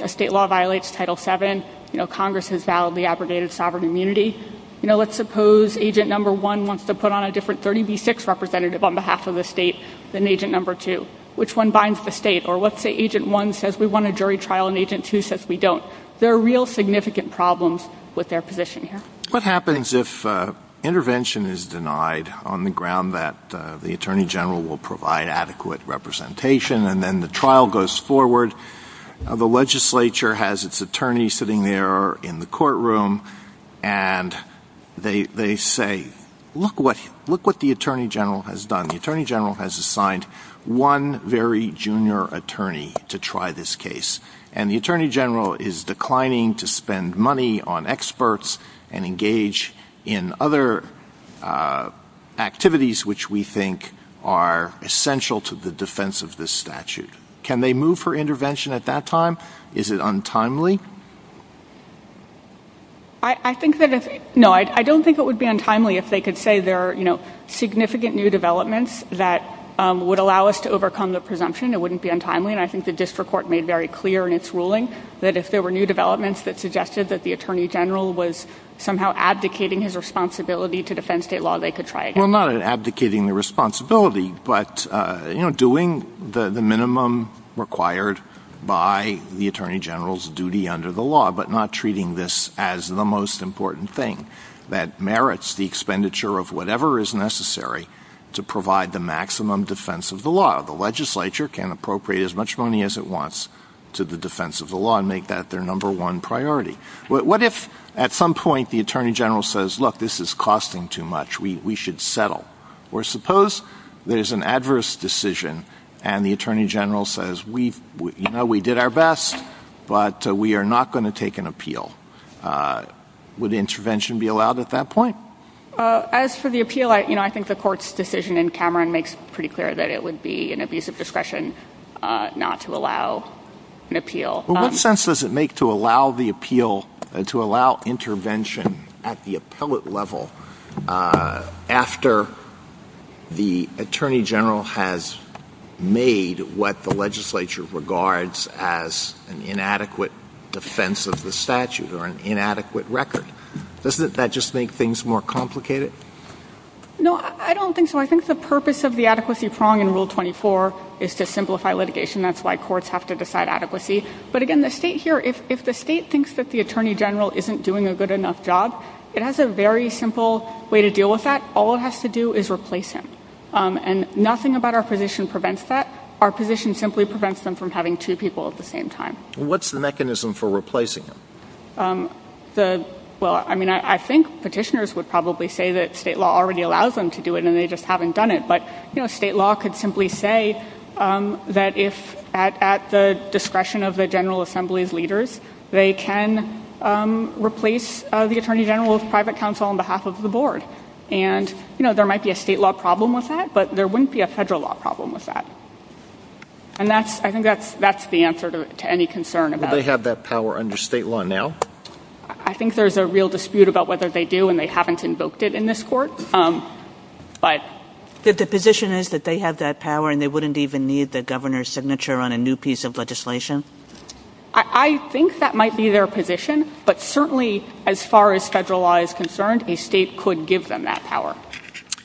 state law violates Title VII, you know, Congress has validly abrogated sovereign immunity. You know, let's suppose agent number one wants to put on a different 30B6 representative on behalf of the state than agent number two. Which one binds the state? Or let's say agent one says we want a jury trial, and agent two says we don't. There are real significant problems with their position here. What happens if intervention is denied on the ground that the Attorney General will provide adequate representation, and then the trial goes forward, the legislature has its attorney sitting there in the courtroom, and they say, look what the Attorney General has done. The Attorney General has assigned one very junior attorney to try this case. And the Attorney General is declining to spend money on experts and engage in other activities which we think are essential to the defense of this statute. Can they move for intervention at that time? Is it untimely? No, I don't think it would be untimely if they could say there are, you know, significant new developments that would allow us to overcome the presumption. It wouldn't be untimely. And I think the district court made very clear in its ruling that if there were new developments that suggested that the Attorney General was somehow abdicating his responsibility to defend state law, they could try again. Well, not abdicating the responsibility, but doing the minimum required by the Attorney General's duty under the law, but not treating this as the most important thing that merits the expenditure of whatever is necessary to provide the maximum defense of the law. The legislature can appropriate as much money as it wants to the defense of the law and make that their number one priority. What if at some point the Attorney General says, look, this is costing too much. We should settle. Or suppose there's an adverse decision and the Attorney General says, you know, we did our best, but we are not going to take an appeal. Would intervention be allowed at that point? As for the appeal, you know, I think the court's decision in Cameron makes pretty clear that it would be an abuse of discretion not to allow an appeal. Well, what sense does it make to allow the appeal, to allow intervention at the appellate level after the Attorney General has made what the legislature regards as an inadequate defense of the statute or an inadequate record? Doesn't that just make things more complicated? No, I don't think so. I think the purpose of the adequacy prong in Rule 24 is to simplify litigation. That's why courts have to decide adequacy. But, again, the state here, if the state thinks that the Attorney General isn't doing a good enough job, it has a very simple way to deal with that. All it has to do is replace him. And nothing about our position prevents that. Our position simply prevents them from having two people at the same time. What's the mechanism for replacing him? Well, I mean, I think petitioners would probably say that state law already allows them to do it and they just haven't done it. But, you know, state law could simply say that if at the discretion of the General Assembly's leaders, they can replace the Attorney General's private counsel on behalf of the board. And, you know, there might be a state law problem with that, but there wouldn't be a federal law problem with that. And I think that's the answer to any concern. Would they have that power under state law now? I think there's a real dispute about whether they do, and they haven't invoked it in this court. But the position is that they have that power and they wouldn't even need the governor's signature on a new piece of legislation? I think that might be their position, but certainly as far as federal law is concerned, a state could give them that power.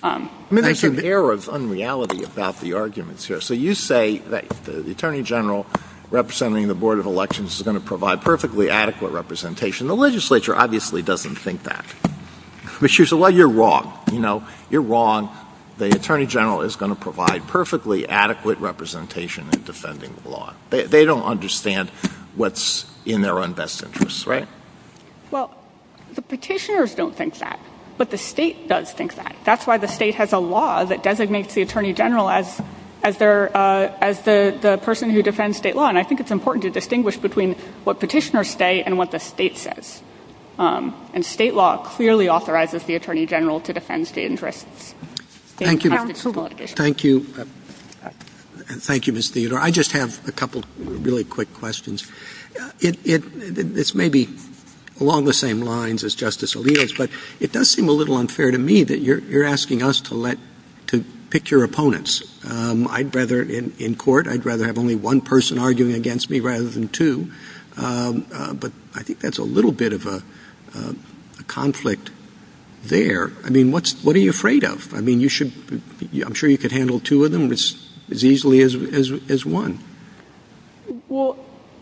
I mean, there's an air of unreality about the arguments here. So you say that the Attorney General representing the Board of Elections is going to provide perfectly adequate representation. The legislature obviously doesn't think that. Well, you're wrong. You're wrong. The Attorney General is going to provide perfectly adequate representation in defending the law. They don't understand what's in their own best interest, right? Well, the petitioners don't think that, but the state does think that. That's why the state has a law that designates the Attorney General as the person who defends state law. And I think it's important to distinguish between what petitioners say and what the state says. And state law clearly authorizes the Attorney General to defend state interests. Thank you, Ms. Theodore. I just have a couple of really quick questions. It's maybe along the same lines as Justice Alito's, but it does seem a little unfair to me that you're asking us to pick your opponents. In court, I'd rather have only one person arguing against me rather than two. But I think that's a little bit of a conflict there. I mean, what are you afraid of? I mean, I'm sure you could handle two of them as easily as one. Well,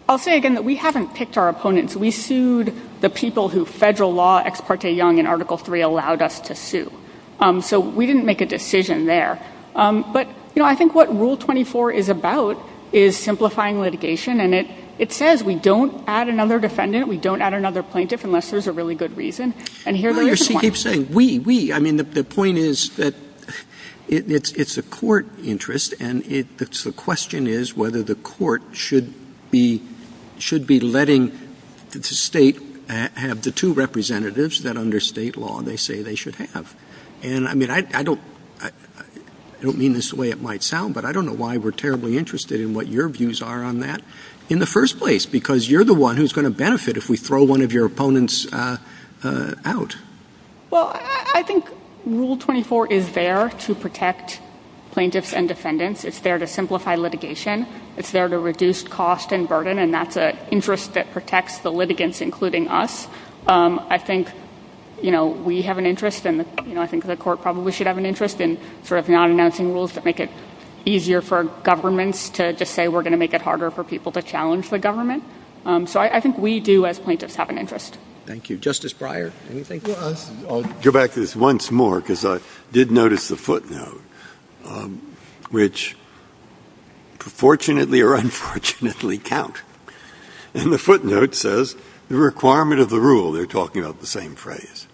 I'll say again that we haven't picked our opponents. We sued the people who federal law ex parte young in Article 3 allowed us to sue. So we didn't make a decision there. But I think what Rule 24 is about is simplifying litigation. And it says we don't add another defendant. We don't add another plaintiff unless there's a really good reason. And here's the issue point. You keep saying we, we. I mean, the point is that it's a court interest. And the question is whether the court should be letting the state have the two representatives that under state law they say they should have. And I mean, I don't mean this the way it might sound, but I don't know why we're terribly interested in what your views are on that in the first place. Because you're the one who's going to benefit if we throw one of your opponents out. Well, I think Rule 24 is there to protect plaintiffs and defendants. It's there to simplify litigation. It's there to reduce cost and burden. And that's an interest that protects the litigants, including us. I think we have an interest, and I think the court probably should have an interest in sort of non-announcing rules that make it easier for governments to just say we're going to make it harder for people to challenge the government. So I think we do, as plaintiffs, have an interest. Thank you. Justice Breyer, anything? I'll go back to this once more, because I did notice the footnote, which, fortunately or unfortunately, count. And the footnote says, the requirement of the rule, they're talking about the same phrase,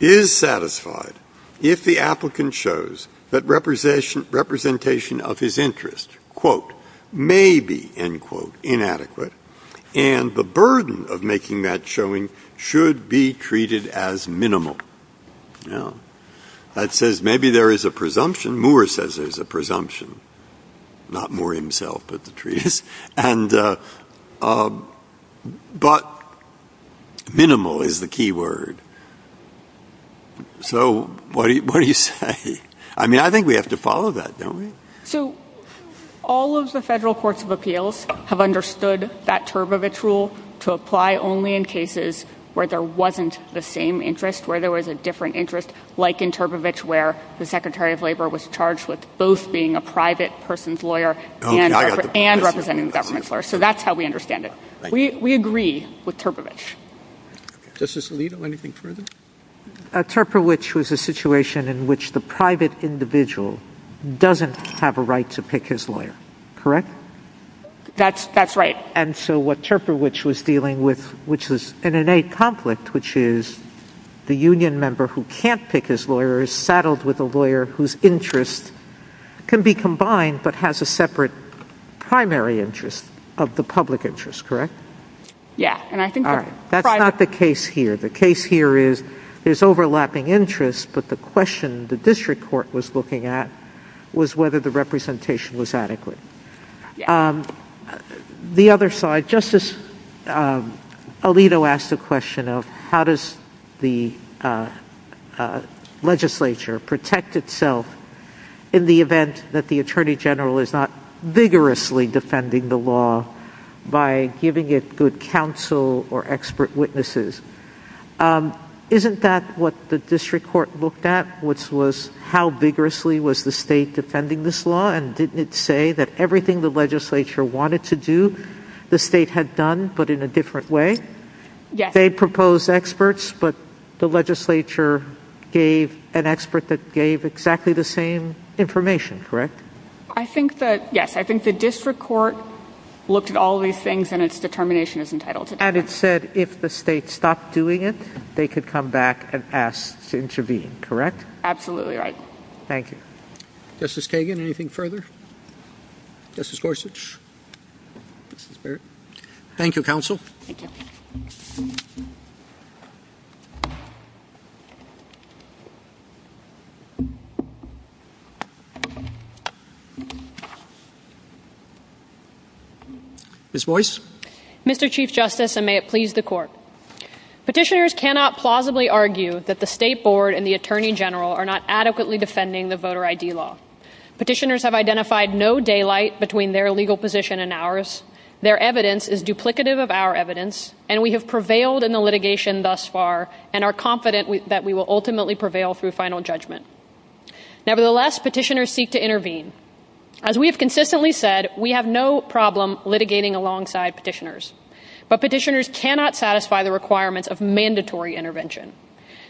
is satisfied if the applicant shows that representation of his interest, quote, may be, end quote, inadequate, and the burden of making that showing should be treated as minimal. It says maybe there is a presumption. Moore says there's a presumption. Not Moore himself, but the trees. But minimal is the key word. So what do you say? I mean, I think we have to follow that, don't we? So all of the federal courts of appeals have understood that Turbovich rule to apply only in cases where there wasn't the same interest, where there was a different interest, like in Turbovich, where the Secretary of Labor was charged with both being a private person's lawyer and representing a government lawyer. So that's how we understand it. We agree with Turbovich. Justice Alito, anything further? Turbovich was a situation in which the private individual doesn't have a right to pick his lawyer. Correct? That's right. And so what Turbovich was dealing with, which was an innate conflict, which is the union member who can't pick his lawyer is saddled with a lawyer whose interests can be combined, but has a separate primary interest of the public interest, correct? Yeah. That's not the case here. The case here is there's overlapping interests, but the question the district court was looking at was whether the representation was adequate. The other side, Justice Alito asked the question of how does the legislature protect itself in the event that the Attorney General is not vigorously defending the law by giving it good counsel or expert witnesses. Isn't that what the district court looked at, which was how vigorously was the state defending this law, and didn't it say that everything the legislature wanted to do, the state had done, but in a different way? Yes. They proposed experts, but the legislature gave an expert that gave exactly the same information, correct? I think that, yes, I think the district court looked at all these things, and its determination is entitled to that. And it said if the state stopped doing it, they could come back and ask to intervene, correct? Absolutely right. Thank you. Justice Kagan, anything further? Justice Gorsuch? Thank you, counsel. Ms. Boyce? Mr. Chief Justice, and may it please the court, Petitioners cannot plausibly argue that the State Board and the Attorney General are not adequately defending the voter ID law. Petitioners have identified no daylight between their legal position and ours. Their evidence is duplicative of our evidence, and we have prevailed in the litigation thus far, and are confident that we will ultimately prevail through final judgment. Nevertheless, petitioners seek to intervene. As we have consistently said, we have no problem litigating alongside petitioners. But petitioners cannot satisfy the requirements of mandatory intervention.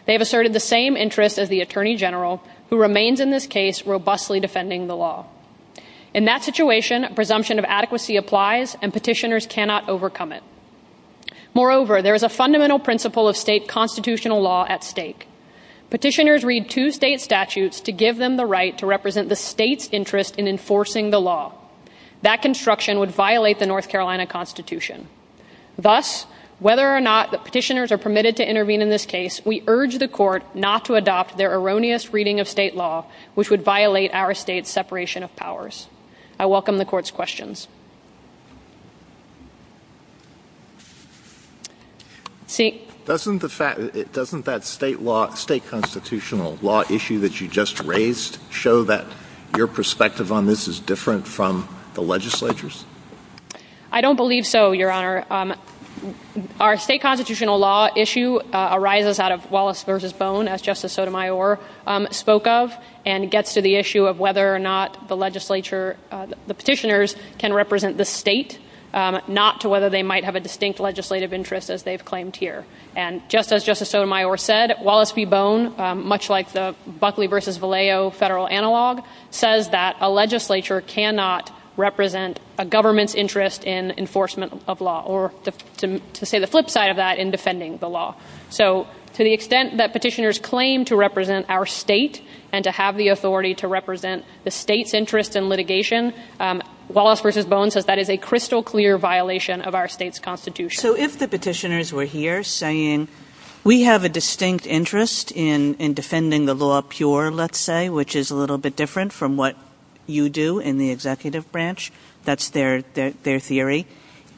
They have asserted the same interest as the Attorney General, who remains in this case robustly defending the law. In that situation, a presumption of adequacy applies, and petitioners cannot overcome it. Moreover, there is a fundamental principle of state constitutional law at stake. Petitioners read two state statutes to give them the right to represent the state's interest in enforcing the law. That construction would violate the North Carolina Constitution. Thus, whether or not petitioners are permitted to intervene in this case, we urge the court not to adopt their erroneous reading of state law, which would violate our state's separation of powers. I welcome the court's questions. Doesn't that state constitutional law issue that you just raised show that your perspective on this is different from the legislature's? I don't believe so, Your Honor. Our state constitutional law issue arises out of Wallace v. Bone, as Justice Sotomayor spoke of, and gets to the issue of whether or not the legislature, the petitioners, can represent the state, not to whether they might have a distinct legislative interest, as they've claimed here. And just as Justice Sotomayor said, Wallace v. Bone, much like the Buckley v. Vallejo federal analog, says that a legislature cannot represent a government's interest in enforcement of law, or to say the flip side of that, in defending the law. So to the extent that petitioners claim to represent our state, and to have the authority to represent the state's interest in litigation, Wallace v. Bone says that is a crystal clear violation of our state's constitution. So if the petitioners were here saying, we have a distinct interest in defending the law pure, let's say, which is a little bit different from what you do in the executive branch, that's their theory,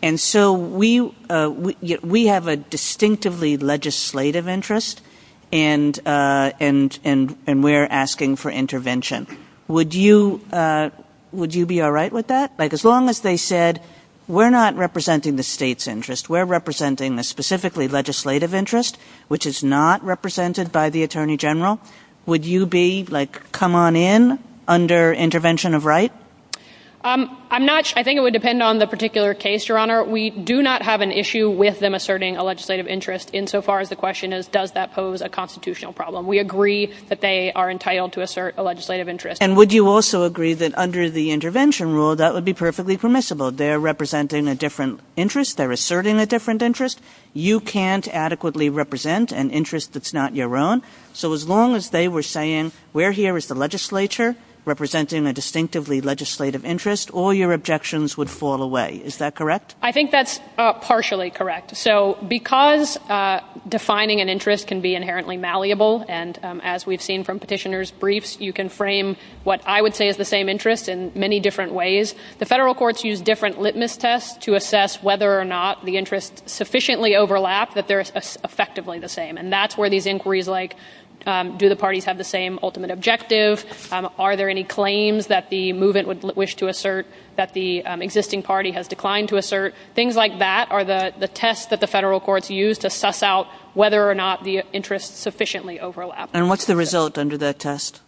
and so we have a distinctively legislative interest, and we're asking for intervention. Would you be all right with that? As long as they said, we're not representing the state's interest, we're representing a specifically legislative interest, which is not represented by the Attorney General, would you be like, come on in, under intervention of right? I think it would depend on the particular case, Your Honor. We do not have an issue with them asserting a legislative interest insofar as the question is, does that pose a constitutional problem? We agree that they are entitled to assert a legislative interest. And would you also agree that under the intervention rule, that would be perfectly permissible? They're representing a different interest. They're asserting a different interest. You can't adequately represent an interest that's not your own. So as long as they were saying, we're here as the legislature, representing a distinctively legislative interest, all your objections would fall away. Is that correct? I think that's partially correct. So because defining an interest can be inherently malleable, and as we've seen from petitioners' briefs, you can frame what I would say is the same interest in many different ways, the federal courts use different litmus tests to assess whether or not the interests sufficiently overlap, that they're effectively the same. And that's where these inquiries like, do the parties have the same ultimate objective? Are there any claims that the movement would wish to assert that the existing party has declined to assert? Things like that are the tests that the federal courts use to assess out whether or not the interests sufficiently overlap. And what's the result under that test?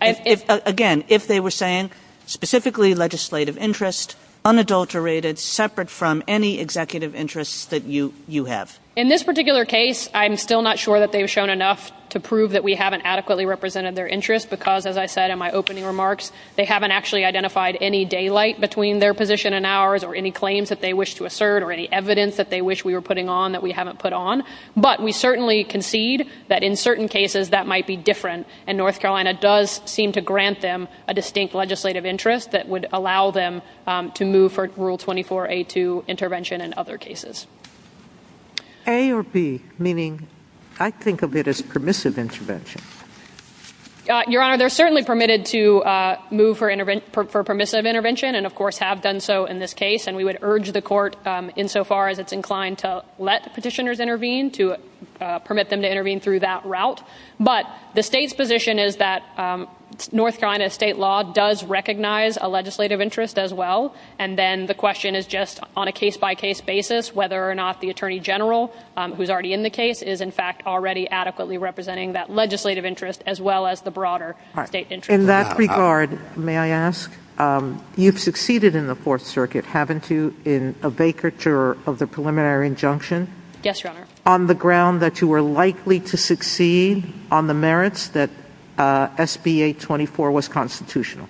Again, if they were saying specifically legislative interest, unadulterated, separate from any executive interests that you have. In this particular case, I'm still not sure that they've shown enough to prove that we haven't adequately represented their interest because, as I said in my opening remarks, they haven't actually identified any daylight between their position and ours or any claims that they wish to assert or any evidence that they wish we were putting on that we haven't put on. But we certainly concede that in certain cases that might be different, and North Carolina does seem to grant them a distinct legislative interest that would allow them to move for Rule 24A2 intervention in other cases. A or B, meaning I think of it as permissive intervention. Your Honor, they're certainly permitted to move for permissive intervention and, of course, have done so in this case. And we would urge the court, insofar as it's inclined to let petitioners intervene, to permit them to intervene through that route. But the state's position is that North Carolina state law does recognize a legislative interest as well, and then the question is just on a case-by-case basis whether or not the Attorney General, who's already in the case, is, in fact, already adequately representing that legislative interest as well as the broader state interest. In that regard, may I ask, you've succeeded in the Fourth Circuit, haven't you, in a vacatur of the preliminary injunction? Yes, Your Honor. On the ground that you were likely to succeed on the merits that SBA 24 was constitutional.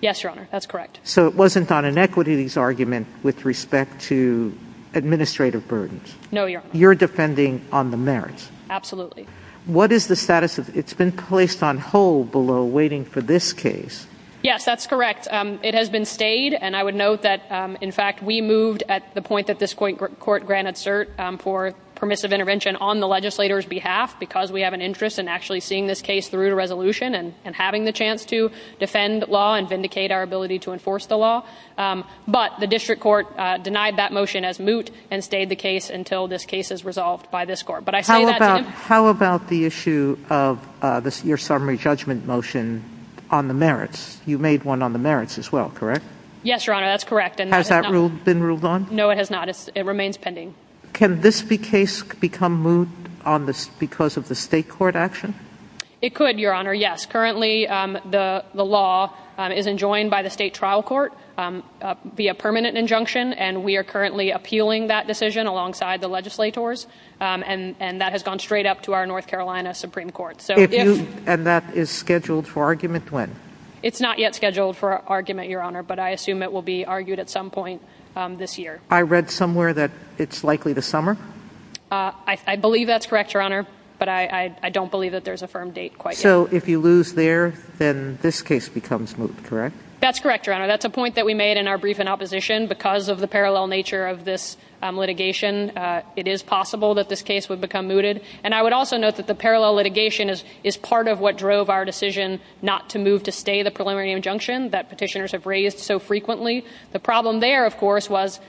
Yes, Your Honor. That's correct. So it wasn't on an equities argument with respect to administrative burdens. No, Your Honor. You're defending on the merits. Absolutely. What is the status of it? It's been placed on hold below waiting for this case. Yes, that's correct. It has been stayed, and I would note that, in fact, we moved at the point that this court granted cert for permissive intervention on the legislator's behalf because we have an interest in actually seeing this case through to resolution and having the chance to defend law and vindicate our ability to enforce the law. But the district court denied that motion as moot and stayed the case until this case is resolved by this court. How about the issue of your summary judgment motion on the merits? You made one on the merits as well, correct? Yes, Your Honor. That's correct. Has that been ruled on? No, it has not. It remains pending. Can this case become moot because of the state court action? It could, Your Honor, yes. Currently, the law is enjoined by the state trial court via permanent injunction, and we are currently appealing that decision alongside the legislators, and that has gone straight up to our North Carolina Supreme Court. And that is scheduled for argument when? It's not yet scheduled for argument, Your Honor, but I assume it will be argued at some point this year. I read somewhere that it's likely this summer. I believe that's correct, Your Honor, but I don't believe that there's a firm date quite yet. So if you lose there, then this case becomes moot, correct? That's correct, Your Honor. That's a point that we made in our brief in opposition. Because of the parallel nature of this litigation, it is possible that this case would become mooted. And I would also note that the parallel litigation is part of what drove our decision not to move to stay the preliminary injunction that petitioners have raised so frequently. The problem there, of course, was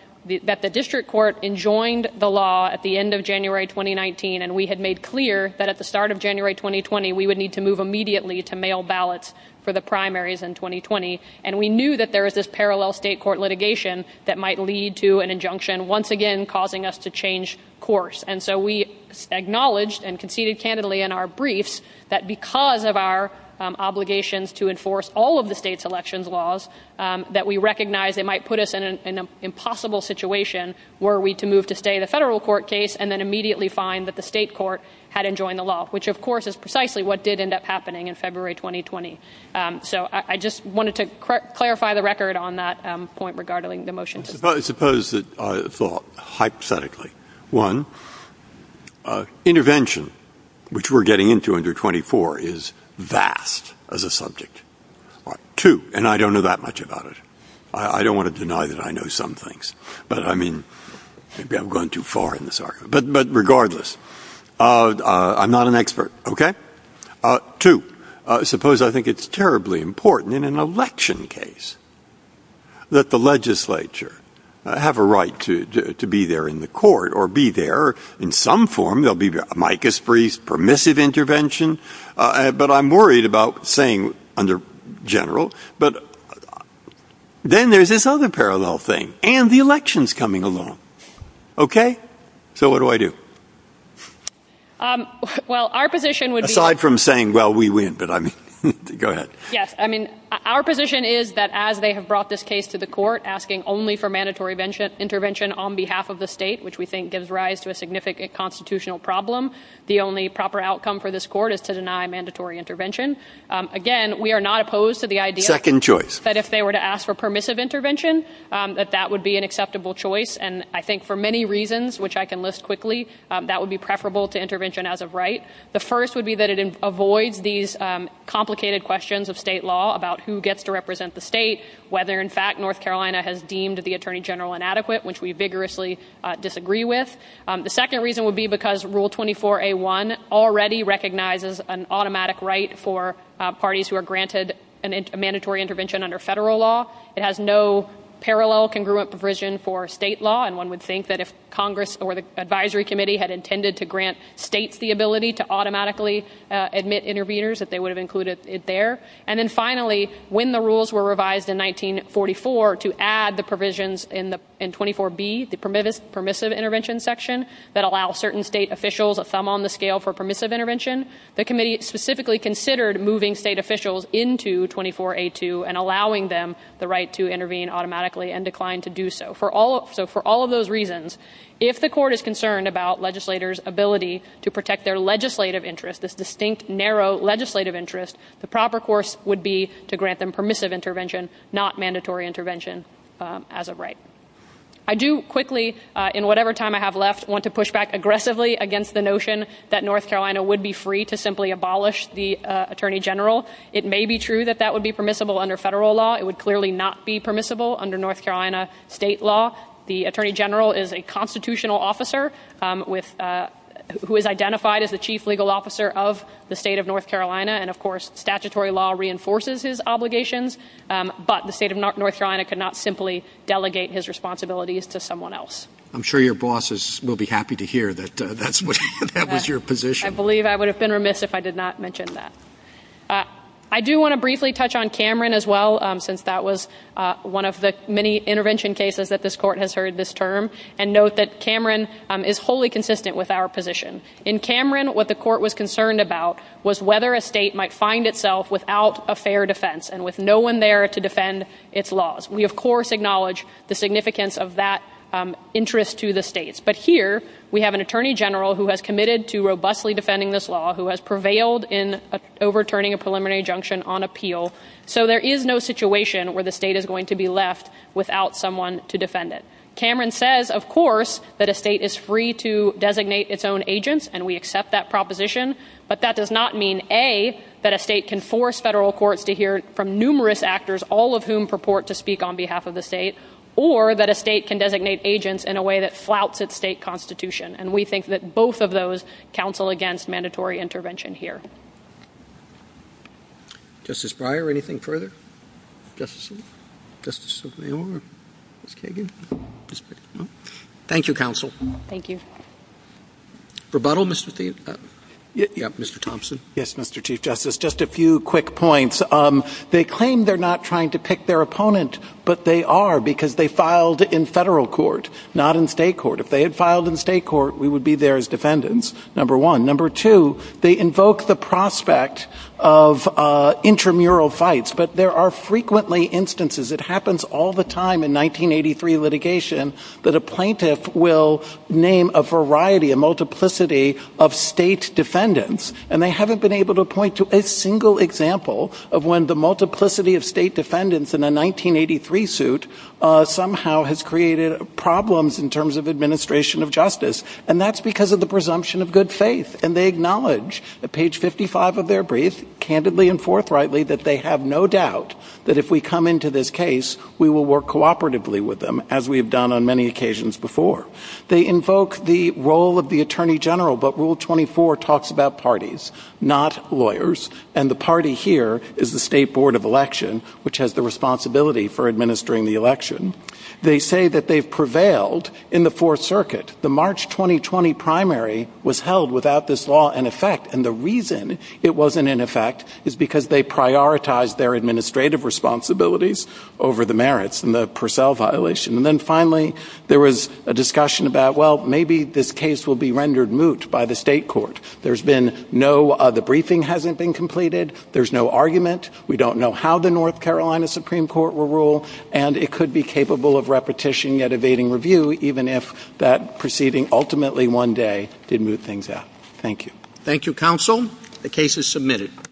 that the district court enjoined the law at the end of January 2019, and we had made clear that at the start of January 2020 we would need to move immediately to mail ballots for the primaries in 2020. And we knew that there was this parallel state court litigation that might lead to an injunction, once again, causing us to change course. And so we acknowledged and conceded candidly in our briefs that because of our obligations to enforce all of the state's elections laws, that we recognized it might put us in an impossible situation were we to move to stay the federal court case and then immediately find that the state court had enjoined the law, which, of course, is precisely what did end up happening in February 2020. So I just wanted to clarify the record on that point regarding the motion. I suppose that I thought hypothetically, one, intervention, which we're getting into under 24, is vast as a subject. Two, and I don't know that much about it. I don't want to deny that I know some things. But I mean, maybe I'm going too far in this argument. But regardless, I'm not an expert. Okay. Two, suppose I think it's terribly important in an election case that the legislature have a right to be there in the court or be there in some form. There'll be a micas-free, permissive intervention. But I'm worried about saying under general. Then there's this other parallel thing. And the election's coming along. Okay? So what do I do? Aside from saying, well, we win. Go ahead. Yes. I mean, our position is that as they have brought this case to the court, asking only for mandatory intervention on behalf of the state, which we think gives rise to a significant constitutional problem, the only proper outcome for this court is to deny mandatory intervention. Again, we are not opposed to the idea that if they were to ask for permissive intervention, that that would be an acceptable choice. And I think for many reasons, which I can list quickly, that would be preferable to intervention as a right. The first would be that it avoids these complicated questions of state law about who gets to represent the state, whether in fact North Carolina has deemed the Attorney General inadequate, which we vigorously disagree with. The second reason would be because Rule 24A.1 already recognizes an automatic right for parties who are granted a mandatory intervention under federal law. It has no parallel congruent provision for state law, and one would think that if Congress or the Advisory Committee had intended to grant states the ability to automatically admit interveners, that they would have included it there. And then finally, when the rules were revised in 1944 to add the provisions in 24B, the permissive intervention section that allows certain state officials a thumb on the scale for permissive intervention, the committee specifically considered moving state officials into 24A.2 and allowing them the right to intervene automatically and declined to do so. So for all of those reasons, if the court is concerned about legislators' ability to protect their legislative interest, this distinct, narrow legislative interest, the proper course would be to grant them permissive intervention, not mandatory intervention as a right. I do quickly, in whatever time I have left, want to push back aggressively against the notion that North Carolina would be free to simply abolish the Attorney General. It may be true that that would be permissible under federal law. It would clearly not be permissible under North Carolina state law. The Attorney General is a constitutional officer who is identified as the chief legal officer of the state of North Carolina, and, of course, statutory law reinforces his obligations, but the state of North Carolina cannot simply delegate his responsibilities to someone else. I'm sure your bosses will be happy to hear that that was your position. I believe I would have been remiss if I did not mention that. I do want to briefly touch on Cameron as well, since that was one of the many intervention cases that this court has heard this term, and note that Cameron is wholly consistent with our position. In Cameron, what the court was concerned about was whether a state might find itself without a fair defense and with no one there to defend its laws. We, of course, acknowledge the significance of that interest to the states, but here we have an Attorney General who has committed to robustly defending this law, who has prevailed in overturning a preliminary injunction on appeal, so there is no situation where the state is going to be left without someone to defend it. Cameron says, of course, that a state is free to designate its own agents, and we accept that proposition, but that does not mean, A, that a state can force federal courts to hear from numerous actors, all of whom purport to speak on behalf of the state, or that a state can designate agents in a way that flouts its state constitution, and we think that both of those counsel against mandatory intervention here. Justice Breyer, anything further? Thank you, counsel. Thank you. Rebuttal, Mr. Thiessen? Yes, Mr. Thompson? Yes, Mr. Chief Justice. Just a few quick points. They claim they're not trying to pick their opponent, but they are because they filed in federal court, not in state court. If they had filed in state court, we would be there as defendants, number one. Number two, they invoke the prospect of intramural fights, but there are frequently instances, it happens all the time in 1983 litigation, that a plaintiff will name a variety, a multiplicity of state defendants, and they haven't been able to point to a single example of when the multiplicity of state defendants in a 1983 suit somehow has created problems in terms of administration of justice, and that's because of the presumption of good faith, and they acknowledge, at page 55 of their brief, candidly and forthrightly, that they have no doubt that if we come into this case, we will work cooperatively with them, as we have done on many occasions before. They invoke the role of the attorney general, but Rule 24 talks about parties, not lawyers, and the party here is the State Board of Election, which has the responsibility for administering the election. They say that they've prevailed in the Fourth Circuit. The March 2020 primary was held without this law in effect, and the reason it wasn't in effect is because they prioritized their administrative responsibilities over the merits and the Purcell violation, and then finally there was a discussion about, well, maybe this case will be rendered moot by the state court. There's been no, the briefing hasn't been completed, there's no argument, we don't know how the North Carolina Supreme Court will rule, and it could be capable of repetition yet evading review, even if that proceeding ultimately one day did moot things out. Thank you. Thank you, counsel. The case is submitted.